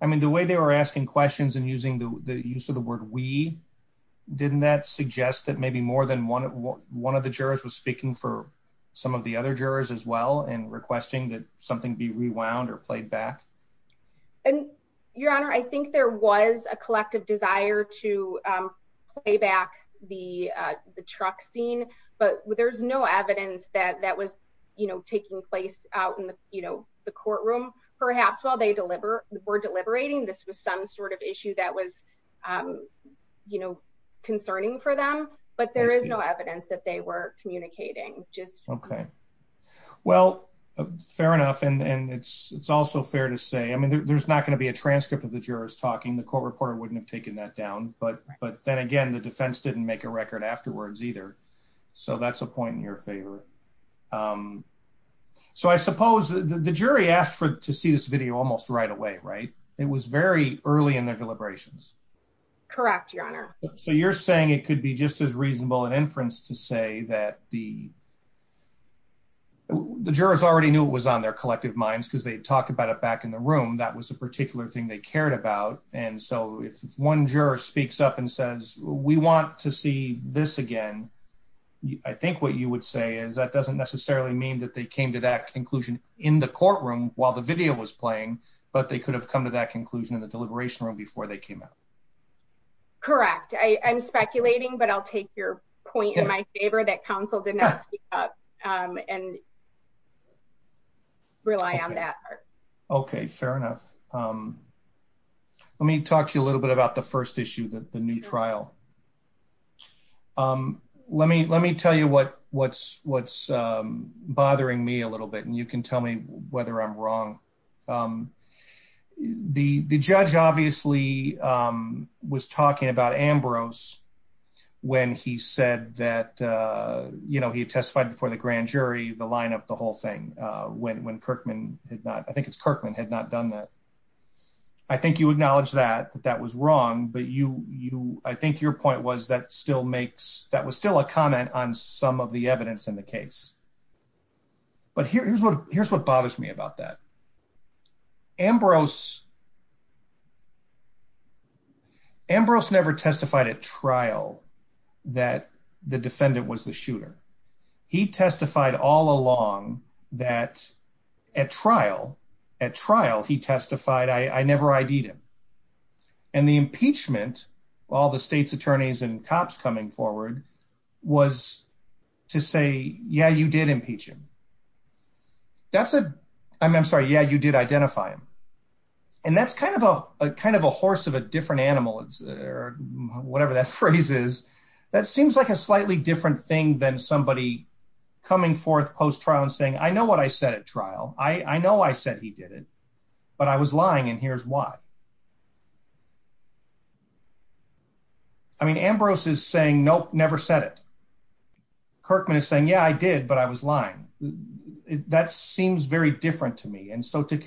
I mean, the way they were asking questions and the use of the word we, didn't that suggest that maybe more than one of the jurors was speaking for some of the other jurors as well and requesting that something be rewound or played back? And, Your Honor, I think there was a collective desire to play back the truck scene, but there's no evidence that that was taking place out in the courtroom. Perhaps while they were deliberating, this was some sort of issue that was concerning for them, but there is no evidence that they were communicating. Okay. Well, fair enough. And it's also fair to say, I mean, there's not going to be a transcript of the jurors talking. The court reporter wouldn't have taken that down. But then again, the defense didn't make a record afterwards either. So that's a point in your favor. Um, so I suppose the jury asked to see this video almost right away, right? It was very early in their deliberations. Correct, Your Honor. So you're saying it could be just as reasonable an inference to say that the jurors already knew it was on their collective minds because they'd talked about it back in the room. That was a particular thing they cared about. And so if one juror speaks up and says, we want to see this again, I think what you would say is that doesn't necessarily mean that they came to that conclusion in the courtroom while the video was playing, but they could have come to that conclusion in the deliberation room before they came out. Correct. I'm speculating, but I'll take your point in my favor that counsel did not speak up, um, and rely on that part. Okay. Fair enough. Um, let me talk to you a little bit about the first issue, the new trial. Um, let me, let me tell you what, what's, what's, um, bothering me a little bit, and you can tell me whether I'm wrong. Um, the, the judge obviously, um, was talking about Ambrose when he said that, uh, you know, he testified before the grand jury, the lineup, the whole thing, uh, when, when Kirkman had not, I think it's Kirkman had not done that. I think you acknowledge that that was wrong, but you, you, I think your point was that still makes, that was still a comment on some of the evidence in the case, but here's what, here's what bothers me about that. Ambrose, Ambrose never testified at trial that the defendant was a shooter. He testified all along that at trial, at trial, he testified, I, I never ID'd him. And the impeachment, all the state's attorneys and cops coming forward was to say, yeah, you did impeach him. That's a, I mean, I'm sorry. Yeah, you did identify him. And that's kind of a, kind of a horse of a different animal or whatever that phrase is. That seems like a slightly different thing than somebody coming forth post trial and saying, I know what I said at trial. I know I said he did it, but I was lying. And here's why. I mean, Ambrose is saying, nope, never said it. Kirkman is saying, yeah, I did, but I was lying. That seems very different to me. And so to me,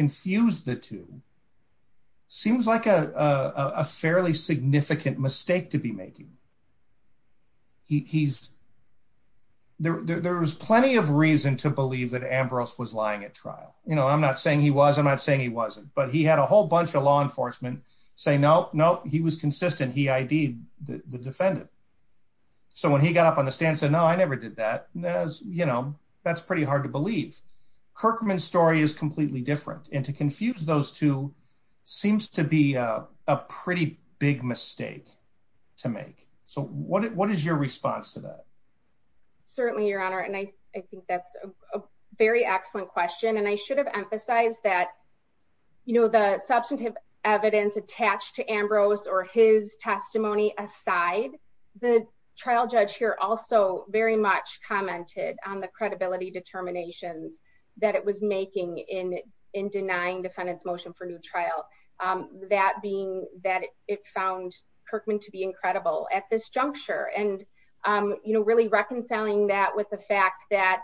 there's plenty of reason to believe that Ambrose was lying at trial. You know, I'm not saying he was, I'm not saying he wasn't, but he had a whole bunch of law enforcement say, nope, nope, he was consistent. He ID'd the defendant. So when he got up on the stand and said, no, I never did that, that was, you know, that's pretty hard to believe. Kirkman's story is completely different. And to confuse those two seems to be a pretty big mistake to make. So what is your response to that? Certainly, Your Honor. And I think that's a very excellent question. And I should have emphasized that, you know, the substantive evidence attached to Ambrose or his testimony aside, the trial judge here also very much commented on the credibility determinations that it was making in denying defendant's motion for new trial. That being that it found Kirkman to be incredible at this juncture. And, you know, really reconciling that with the fact that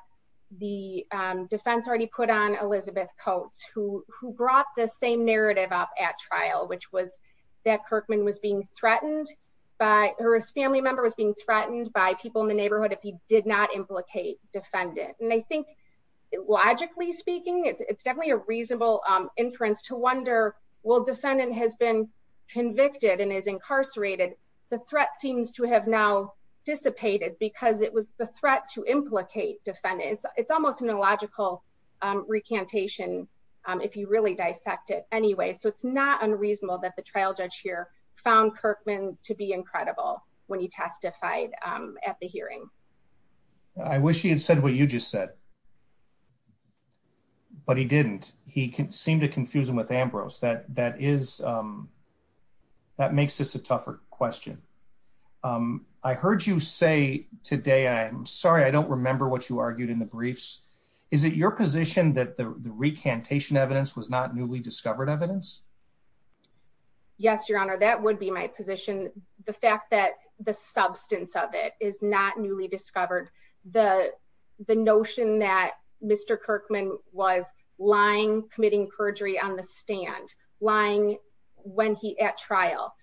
the defense already put on Elizabeth Coates, who brought the same narrative up at trial, which was that Kirkman was being threatened by, or his family member was being threatened by people in the neighborhood if he did not implicate defendant. And I think logically speaking, it's definitely a reasonable inference to wonder, well, defendant has been convicted and is incarcerated. The threat seems to have now dissipated because it was the threat to implicate defendant. It's almost an illogical recantation if you really dissect it anyway. So it's not unreasonable that the trial judge here found Kirkman to be incredible when he testified at the hearing. I wish he had said what you just said, but he didn't. He seemed to confuse him with Ambrose. That makes this a tougher question. I heard you say today, I'm sorry, I don't remember what you argued in the briefs. Is it your position that the recantation evidence was not newly discovered evidence? Yes, your honor, that would be my position. The fact that the substance of it is not newly discovered, the notion that Mr. Kirkman was lying, committing perjury on the stand, lying when he at trial.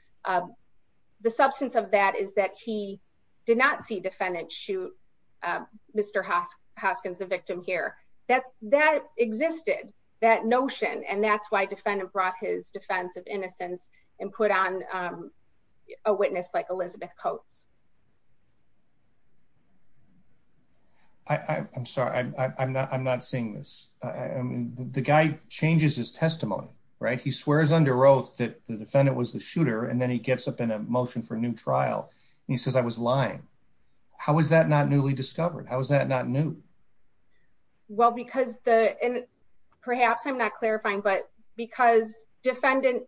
The substance of that is that he did not see defendant shoot Mr. Hopkins, the victim here. That existed, that notion. And that's why defendant brought his defense of innocence and put on a witness like Elizabeth Coates. I'm sorry, I'm not seeing this. The guy changes his testimony, right? He swears under oath that the defendant was the shooter, and then he gets up in a motion for a new trial. He says, I was lying. How is that not newly discovered? How is that not new? Well, because the, and perhaps I'm not clarifying, but because defendant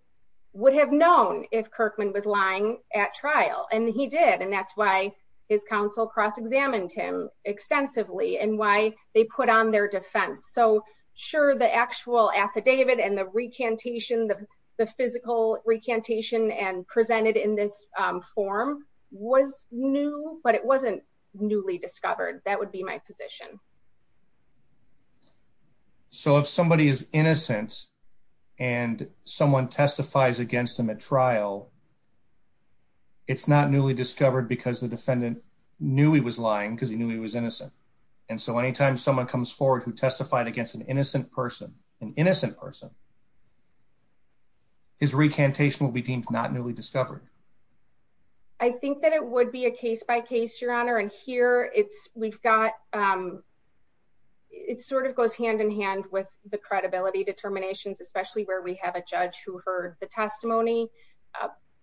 would have known if Kirkman was lying at trial and he did. And that's why his counsel cross-examined him extensively and why they put on their defense. So sure, the actual affidavit and the recantation, the physical recantation and presented in this form was new, but it wasn't newly discovered. That would be my position. So if somebody is innocent and someone testifies against them at trial, it's not newly discovered because the defendant knew he was lying because he knew he was innocent. And so anytime someone comes forward who testified against an innocent person, an innocent person, his recantation will be deemed not newly discovered. I think that it would be a case by case, Your Honor. And here it's, we've got, it sort of goes hand in hand with the credibility determinations, especially where we have a judge who heard the testimony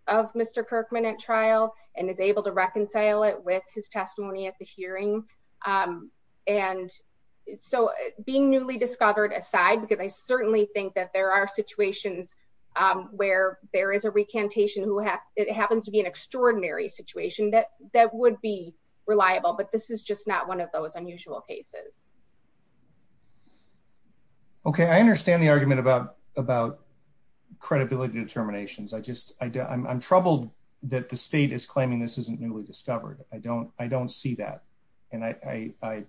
of Mr. Kirkman at trial and is able to reconcile it with his testimony at the hearing. And so being newly discovered aside, because I certainly think that there are situations where there is a recantation who has, it happens to be an extraordinary situation that would be reliable, but this is just not one of those unusual cases. Okay. I understand the argument about credibility determinations. I just, I'm troubled that the state is claiming this isn't newly discovered. I don't, I don't see that. And I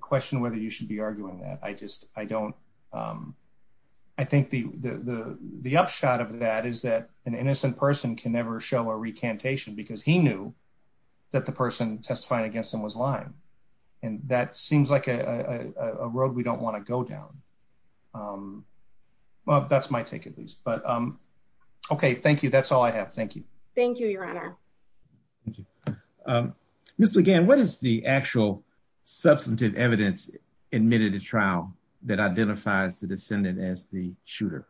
question whether you should be arguing that. I just, I don't, I think the upshot of that is that an innocent person can never show a recantation because he knew that the person testifying against him was lying. And that seems like a road we don't want to go down. Well, that's my take at least, but okay. Thank you. That's all I have. Thank you. Thank you, Your Honor. Ms. LeGan, what is the actual substantive evidence admitted to trial that identifies the descendant as the shooter?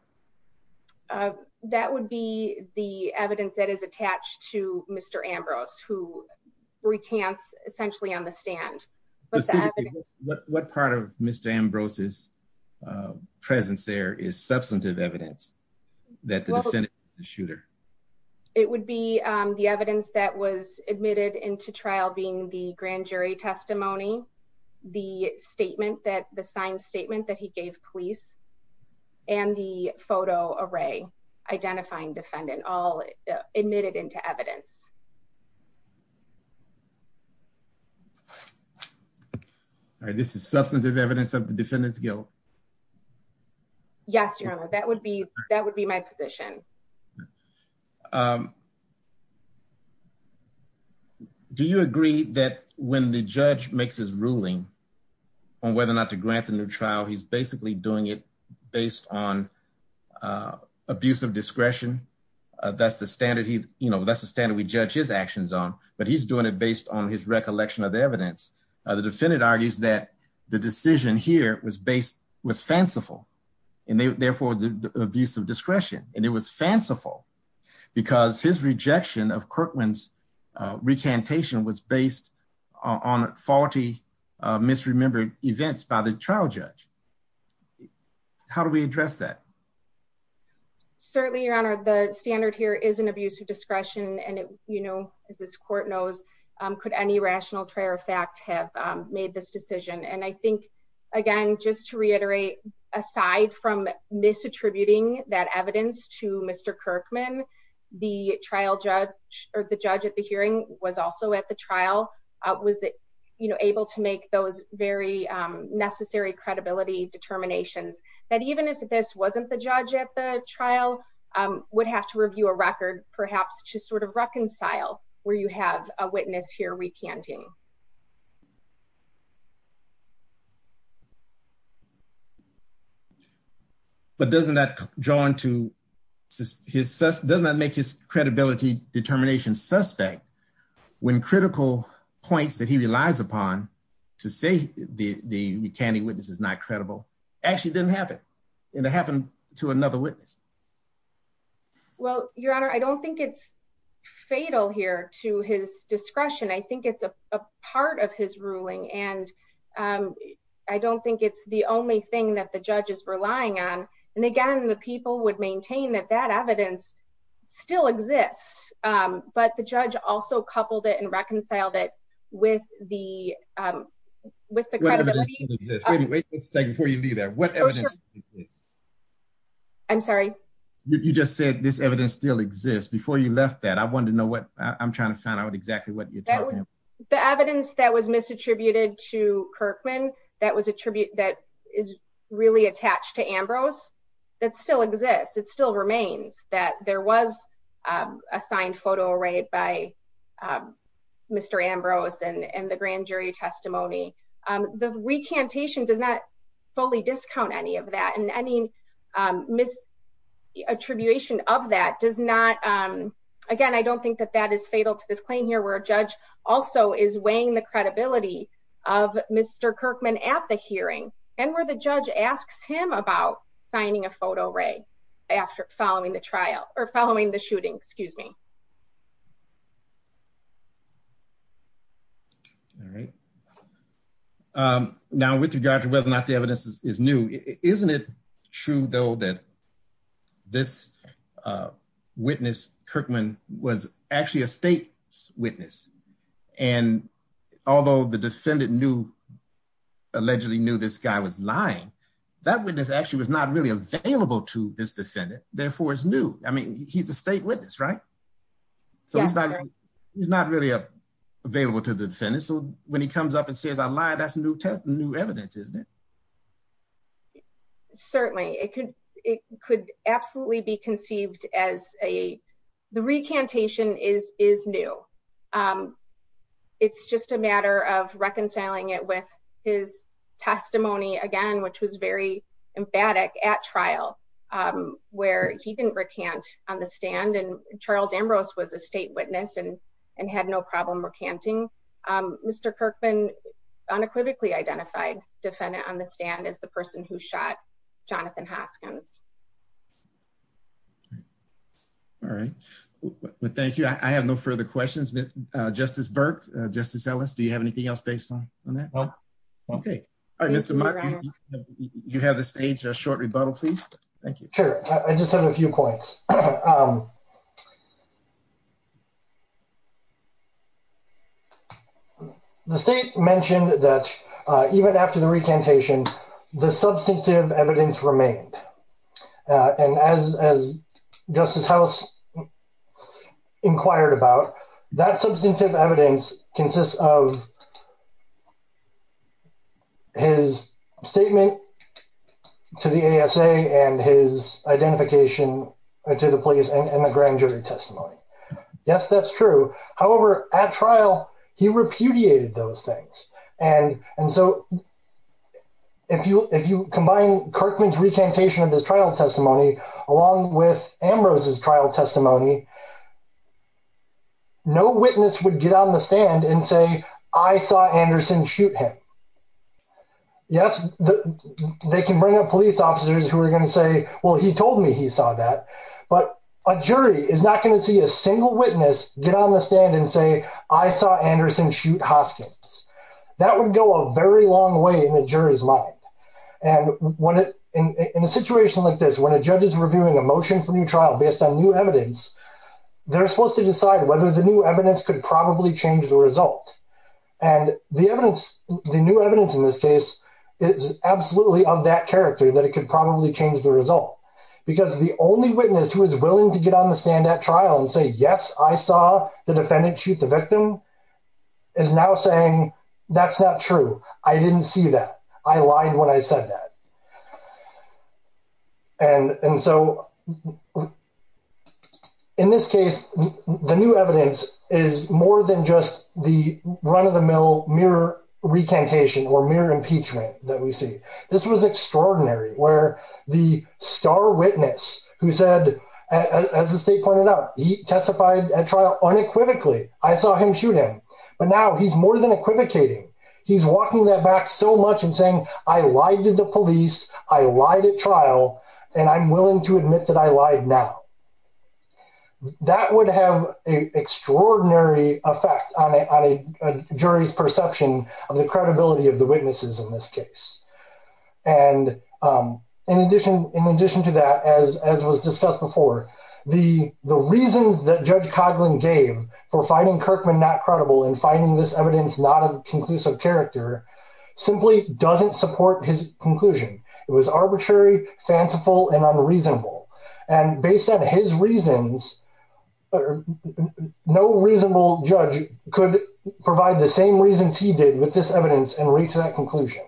That would be the evidence that is attached to Mr. Ambrose, who recants essentially on the stand. What part of Mr. Ambrose's presence there is the evidence that was admitted into trial being the grand jury testimony, the statement that the signed statement that he gave police, and the photo array identifying defendant all admitted into evidence. All right. This is substantive evidence of the defendant's guilt. Yes, Your Honor. That would be, that would be my position. Do you agree that when the judge makes his ruling on whether or not to grant the new trial, he's basically doing it based on abuse of discretion? That's the standard he, you know, that's the standard we judge his actions on, but he's doing it based on his recollection of the evidence. The defendant argues that the decision here was based, was fanciful, and therefore, the abuse of discretion. And it was fanciful because his regard of Kirkman's recantation was based on faulty misremembered events by the trial judge. How do we address that? Certainly, Your Honor, the standard here is an abuse of discretion. And you know, as this court knows, could any rational prayer of fact have made this decision. And I think, again, just to reiterate, aside from misattributing that evidence to Mr. Kirkman, the trial judge, or the judge at the hearing was also at the trial, was, you know, able to make those very necessary credibility determinations, that even if this wasn't the judge at the trial, would have to review a record, perhaps to sort of reconcile where you have a witness here recanting. But doesn't that draw into his, doesn't that make his credibility determination suspect, when critical points that he relies upon to say the recanting witness is not credible, actually didn't happen, and it happened to another witness? Well, Your Honor, I don't think it's fatal here to his discretion. I think it's a part of his ruling. And I don't think it's the only thing that the judge is relying on. And again, the people would maintain that that evidence still exists. But the judge also coupled it and reconciled it with the credibility. Wait a second before you do that. I'm sorry. You just said this evidence still exists. Before you left that, I wanted to know I'm trying to find out exactly what you're talking about. The evidence that was misattributed to Kirkman, that is really attached to Ambrose, that still exists, it still remains, that there was a signed photo right by Mr. Ambrose and the grand jury testimony. The recantation does not fully discount any of that. Any misattribution of that does not, again, I don't think that that is fatal to this claim here where a judge also is weighing the credibility of Mr. Kirkman at the hearing and where the judge asks him about signing a photo right after following the trial, or following the shooting, excuse me. All right. Now, with regard to whether or not the evidence is new, isn't it true, Bill, that this witness, Kirkman, was actually a state witness. And although the defendant knew, allegedly knew this guy was lying, that witness actually was not really available to this defendant, therefore it's new. I mean, he's a state witness, right? So he's not really available to the defendant. So when he comes up and says I lied, that's new evidence, isn't it? Certainly. It could absolutely be conceived as a, the recantation is new. It's just a matter of reconciling it with his testimony, again, which was very emphatic at trial where he didn't recant on the stand and Charles Ambrose was a state witness and had no problem recanting. Mr. Kirkman unequivocally identified the defendant on the stand as the person who shot Jonathan Hopkins. All right. Well, thank you. I have no further questions. Justice Burke, Justice Ellis, do you have anything else based on that? No. Okay. All right, Mr. Mike, you have a stage, a short rebuttal, please. Thank you. Sure. I just have a few points. The state mentioned that even after the recantation, the substantive evidence remained. And as Justice Ellis inquired about, that substantive evidence consists of his statement to the ASA and his identification to the police and the grand jury testimony. Yes, that's true. However, at trial, he repudiated those things. And so if you combine Kirkman's recantation of his trial testimony, along with Ambrose's trial testimony, no witness would get on the stand and say, I saw Anderson shoot him. Yes, they can bring up police officers who are going to say, well, he told me he saw that, but a jury is not going to see a single witness get on the stand and say, I saw Anderson shoot Hoskins. That would go a very long way in the jury's mind. And in a situation like this, when a judge is reviewing a motion for new trial based on new evidence, they're supposed to decide whether the new evidence could probably change the result. And the new evidence in this case is absolutely of that character, that it could probably change the result. Because the only witness who is willing to get on the stand at trial and say, yes, I saw the defendant shoot the victim, is now saying, that's not true. I didn't see that. I lied when I said that. And so in this case, the new evidence is more than just the run-of-the-mill mirror recantation or mirror impeachment that we see. This was extraordinary, where the star witness who said, as the state pointed out, he testified at trial unequivocally. I saw him shoot him. But now he's more than equivocating. He's walking that back so much and saying, I lied to the police, I lied at trial, and I'm willing to admit that I lied now. That would have an extraordinary effect on a jury's perception of the credibility of the The reasons that Judge Coghlan gave for finding Kirkman not credible and finding this evidence not of conclusive character simply doesn't support his conclusion. It was arbitrary, fanciful, and unreasonable. And based on his reasons, no reasonable judge could provide the same reasons he did with this evidence and reach that conclusion.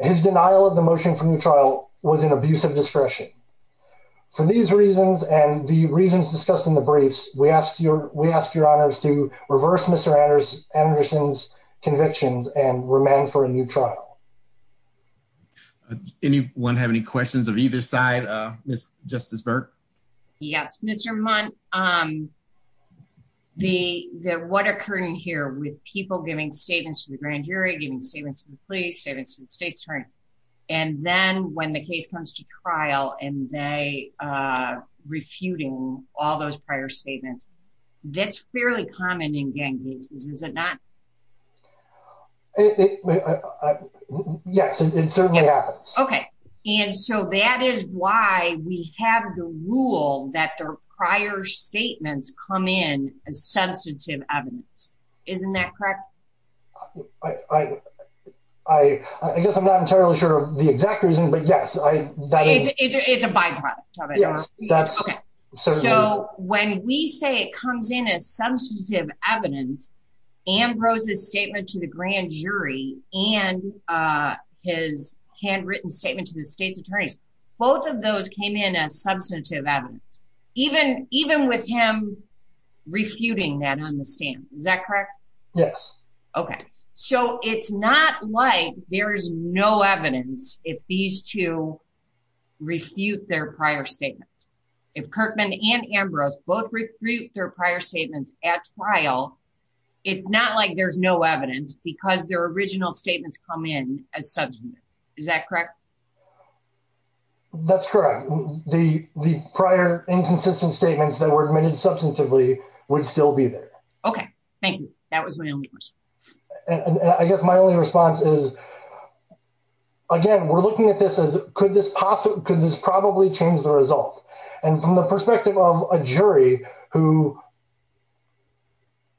His denial of the motion from trial was an abuse of discretion. For these reasons and the reasons discussed in the briefs, we ask your honors to reverse Mr. Anderson's convictions and remain for a new trial. Anyone have any questions of either side, Justice Burke? Yes, Mr. Monk. What occurred here with people giving statements to the grand jury, giving statements to the police, statements to the state attorney, and then when the case comes to trial and they are refuting all those prior statements, that's fairly common in gang cases, is it not? Yes, it certainly happens. Okay. And so that is why we have the rule that the prior statements come in as sensitive evidence. Isn't that correct? I guess I'm not entirely sure of the exact reason, but yes. It's a byproduct of it. So when we say it comes in as substantive evidence, Ambrose's statement to the grand jury and his handwritten statement to the state attorney, both of those came in as substantive evidence, even with him refuting that on the stand. Is that correct? Yes. Okay. So it's not like there's no evidence if these two refute their prior statements. If Kirkman and Ambrose both refute their prior statements at trial, it's not like there's no evidence because their original statements come in as substantive. Is that correct? That's correct. The prior inconsistent statements that were admitted substantively would still be there. Okay. Thank you. That was my only question. I guess my only response is, again, we're looking at this as, could this possibly, could this probably change the results? And from the perspective of a jury who,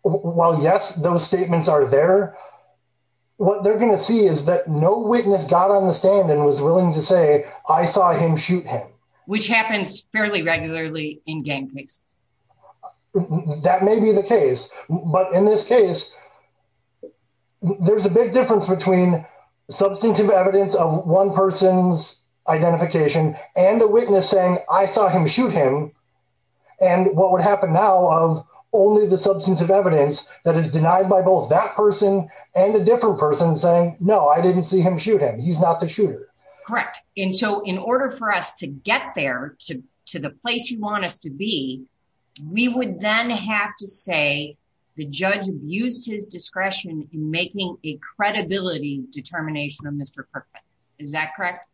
while yes, those statements are there, what they're going to see is that no witness got on the stand and was willing to say, I saw him shoot him. Which happens fairly regularly in gang cases. That may be the case, but in this case, there's a big difference between substantive evidence of one person's identification and a witness saying, I saw him shoot him. And what would happen now of only the substantive evidence that is denied by both that person and a different person saying, no, I didn't see him shoot him. He's not the shooter. Correct. And so in order for us to get there to the place you want us to be, we would then have to say the judge used his discretion in making a credibility determination on Mr. Kirkland. Is that correct?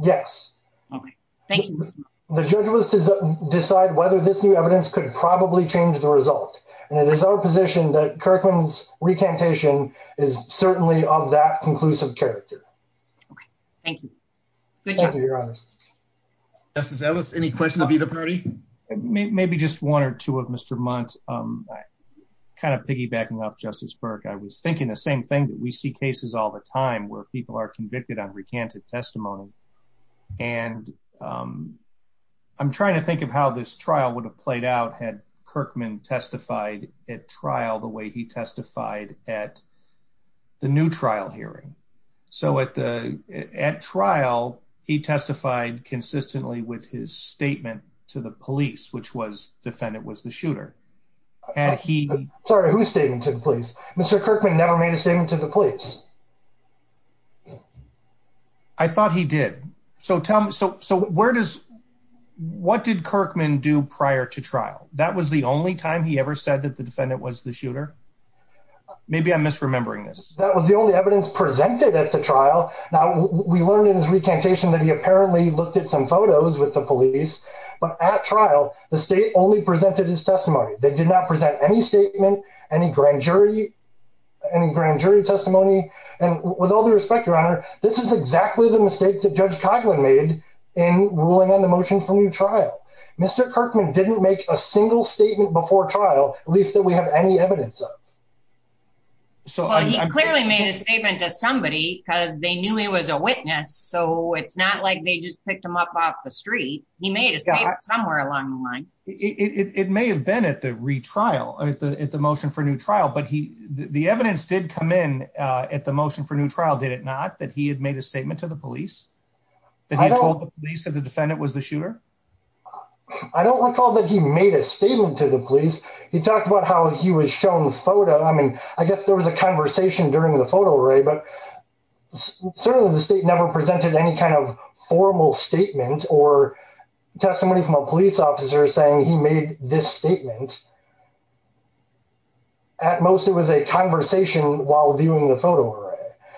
Yes. The judge was to decide whether this new evidence could probably change the result. And it is our position that Kirkland's recantation is certainly of that conclusive character. Thank you. Thank you, your honor. Justice Ellis, any questions of either party? Maybe just one or two of Mr. Muntz. Kind of piggybacking off Justice Burke, I was thinking the same thing that we see cases all the time where people are convicted on recanted testimony. And I'm trying to think of how this at trial the way he testified at the new trial hearing. So at trial, he testified consistently with his statement to the police, which was defendant was the shooter. Sorry, whose statement to the police? Mr. Kirkman never made a statement to the police. I thought he did. So what did Kirkman do prior to trial? That was the only time he said that the defendant was the shooter. Maybe I'm misremembering this. That was the only evidence presented at the trial. Now, we learned in his recantation that he apparently looked at some photos with the police. But at trial, the state only presented his testimony. They did not present any statement, any grand jury, any grand jury testimony. And with all due respect, your honor, this is exactly the mistake that Judge Kotlin made in ruling on the single statement before trial, at least that we have any evidence of. So he clearly made a statement to somebody because they knew he was a witness. So it's not like they just picked him up off the street. He made a statement somewhere along the line. It may have been at the retrial and at the motion for new trial, but the evidence did come in at the motion for new trial, did it not? That he had made a statement to the police? That he had told the defendant was the shooter? I don't recall that he made a statement to the police. He talked about how he was shown the photo. I mean, I guess there was a conversation during the photo array, but certainly the state never presented any kind of formal statement or testimony from a police officer saying he made this statement. At most, it was a conversation while viewing the photo array.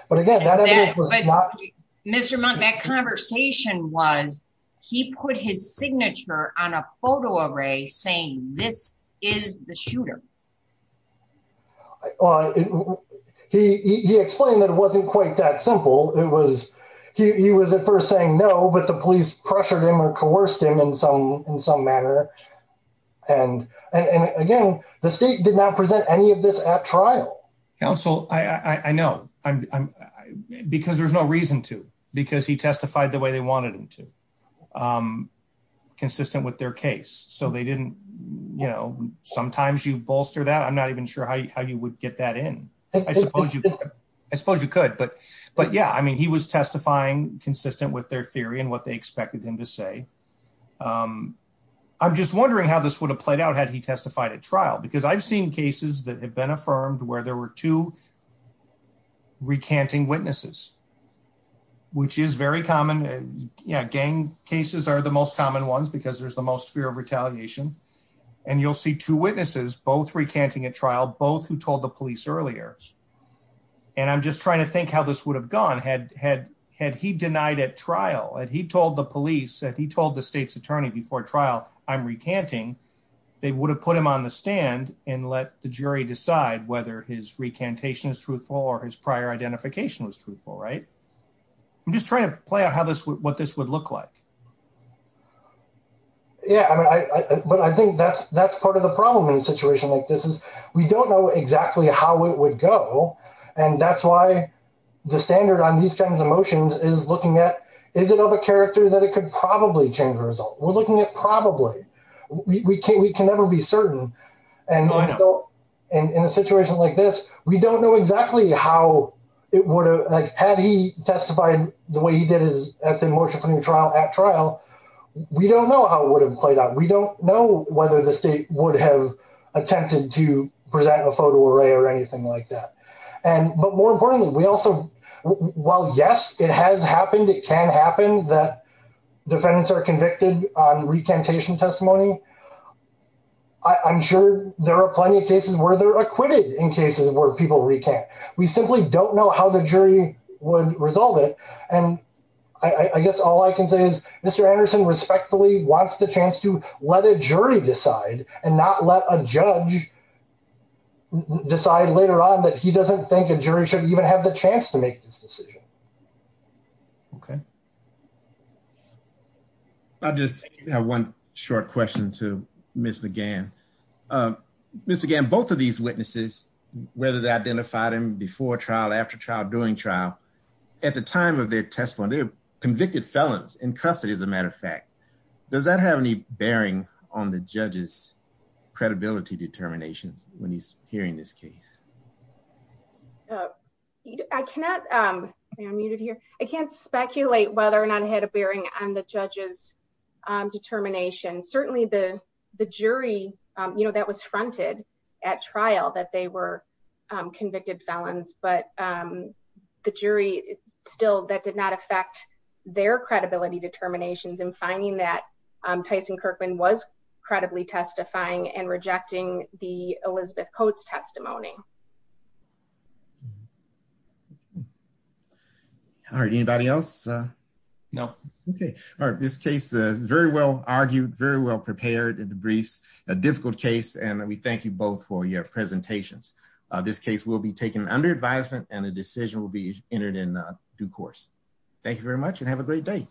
But again, that evidence was not- Mr. Monk, that conversation was he put his signature on a photo array saying this is the shooter. He explained that it wasn't quite that simple. He was at first saying no, but the police pressured him or coerced him in some manner. And again, the state did not present any of this at trial. Counsel, I know. Because there's no reason to. Because he testified the way they wanted him to. Consistent with their case. So they didn't, you know, sometimes you bolster that. I'm not even sure how you would get that in. I suppose you could. But yeah, I mean, he was testifying consistent with their theory and what they expected him to say. I'm just wondering how this would have played out had he testified at trial. Because I've seen cases that have been affirmed where there were two recanting witnesses. Which is very common. You know, gang cases are the most common ones because there's the most fear of retaliation. And you'll see two witnesses, both recanting at trial, both who told the police earlier. And I'm just trying to think how this would have gone had he denied at trial. Had he told the police, had he told the state's attorney before trial, I'm recanting, they would have put him on the stand and let the jury decide whether his recantation is truthful or his prior identification was truthful, right? I'm just trying to play out what this would look like. Yeah, but I think that's part of the problem in a situation like this is we don't know exactly how it would go. And that's why the standard on these kinds of motions is looking at is it of a character that it could probably change the result. We're looking at probably. We can never be certain. And in a situation like this, we don't know exactly how it would have, had he testified the way he did at the motion at trial, we don't know how it would have played out. We don't know whether the state would have attempted to present a photo array or anything like that. And, but more importantly, we defendants are convicted on recantation testimony. I'm sure there are plenty of cases where they're acquitted in cases where people recant. We simply don't know how the jury would resolve it. And I guess all I can say is Mr. Anderson respectfully wants the chance to let a jury decide and not let a judge decide later on that he doesn't think a jury should even have the chance to make this decision. Okay. I just have one short question to Ms. McGann. Ms. McGann, both of these witnesses, whether they identified him before trial, after trial, during trial, at the time of their testimony, they're convicted felons in custody as a matter of fact. Does that have any bearing on the judge's credibility determination when he's hearing this testimony? I cannot, I can't speculate whether or not it had a bearing on the judge's determination. Certainly the jury, you know, that was fronted at trial that they were convicted felons, but the jury still, that did not affect their credibility determinations in identifying that Tyson Kirkman was credibly testifying and rejecting the Elizabeth Coates testimony. All right. Anybody else? No. Okay. All right. This case is very well argued, very well prepared in the briefs, a difficult case, and we thank you both for your presentations. This case will be taken under advisement and the decision will be entered in due course. Thank you very much and have a great day.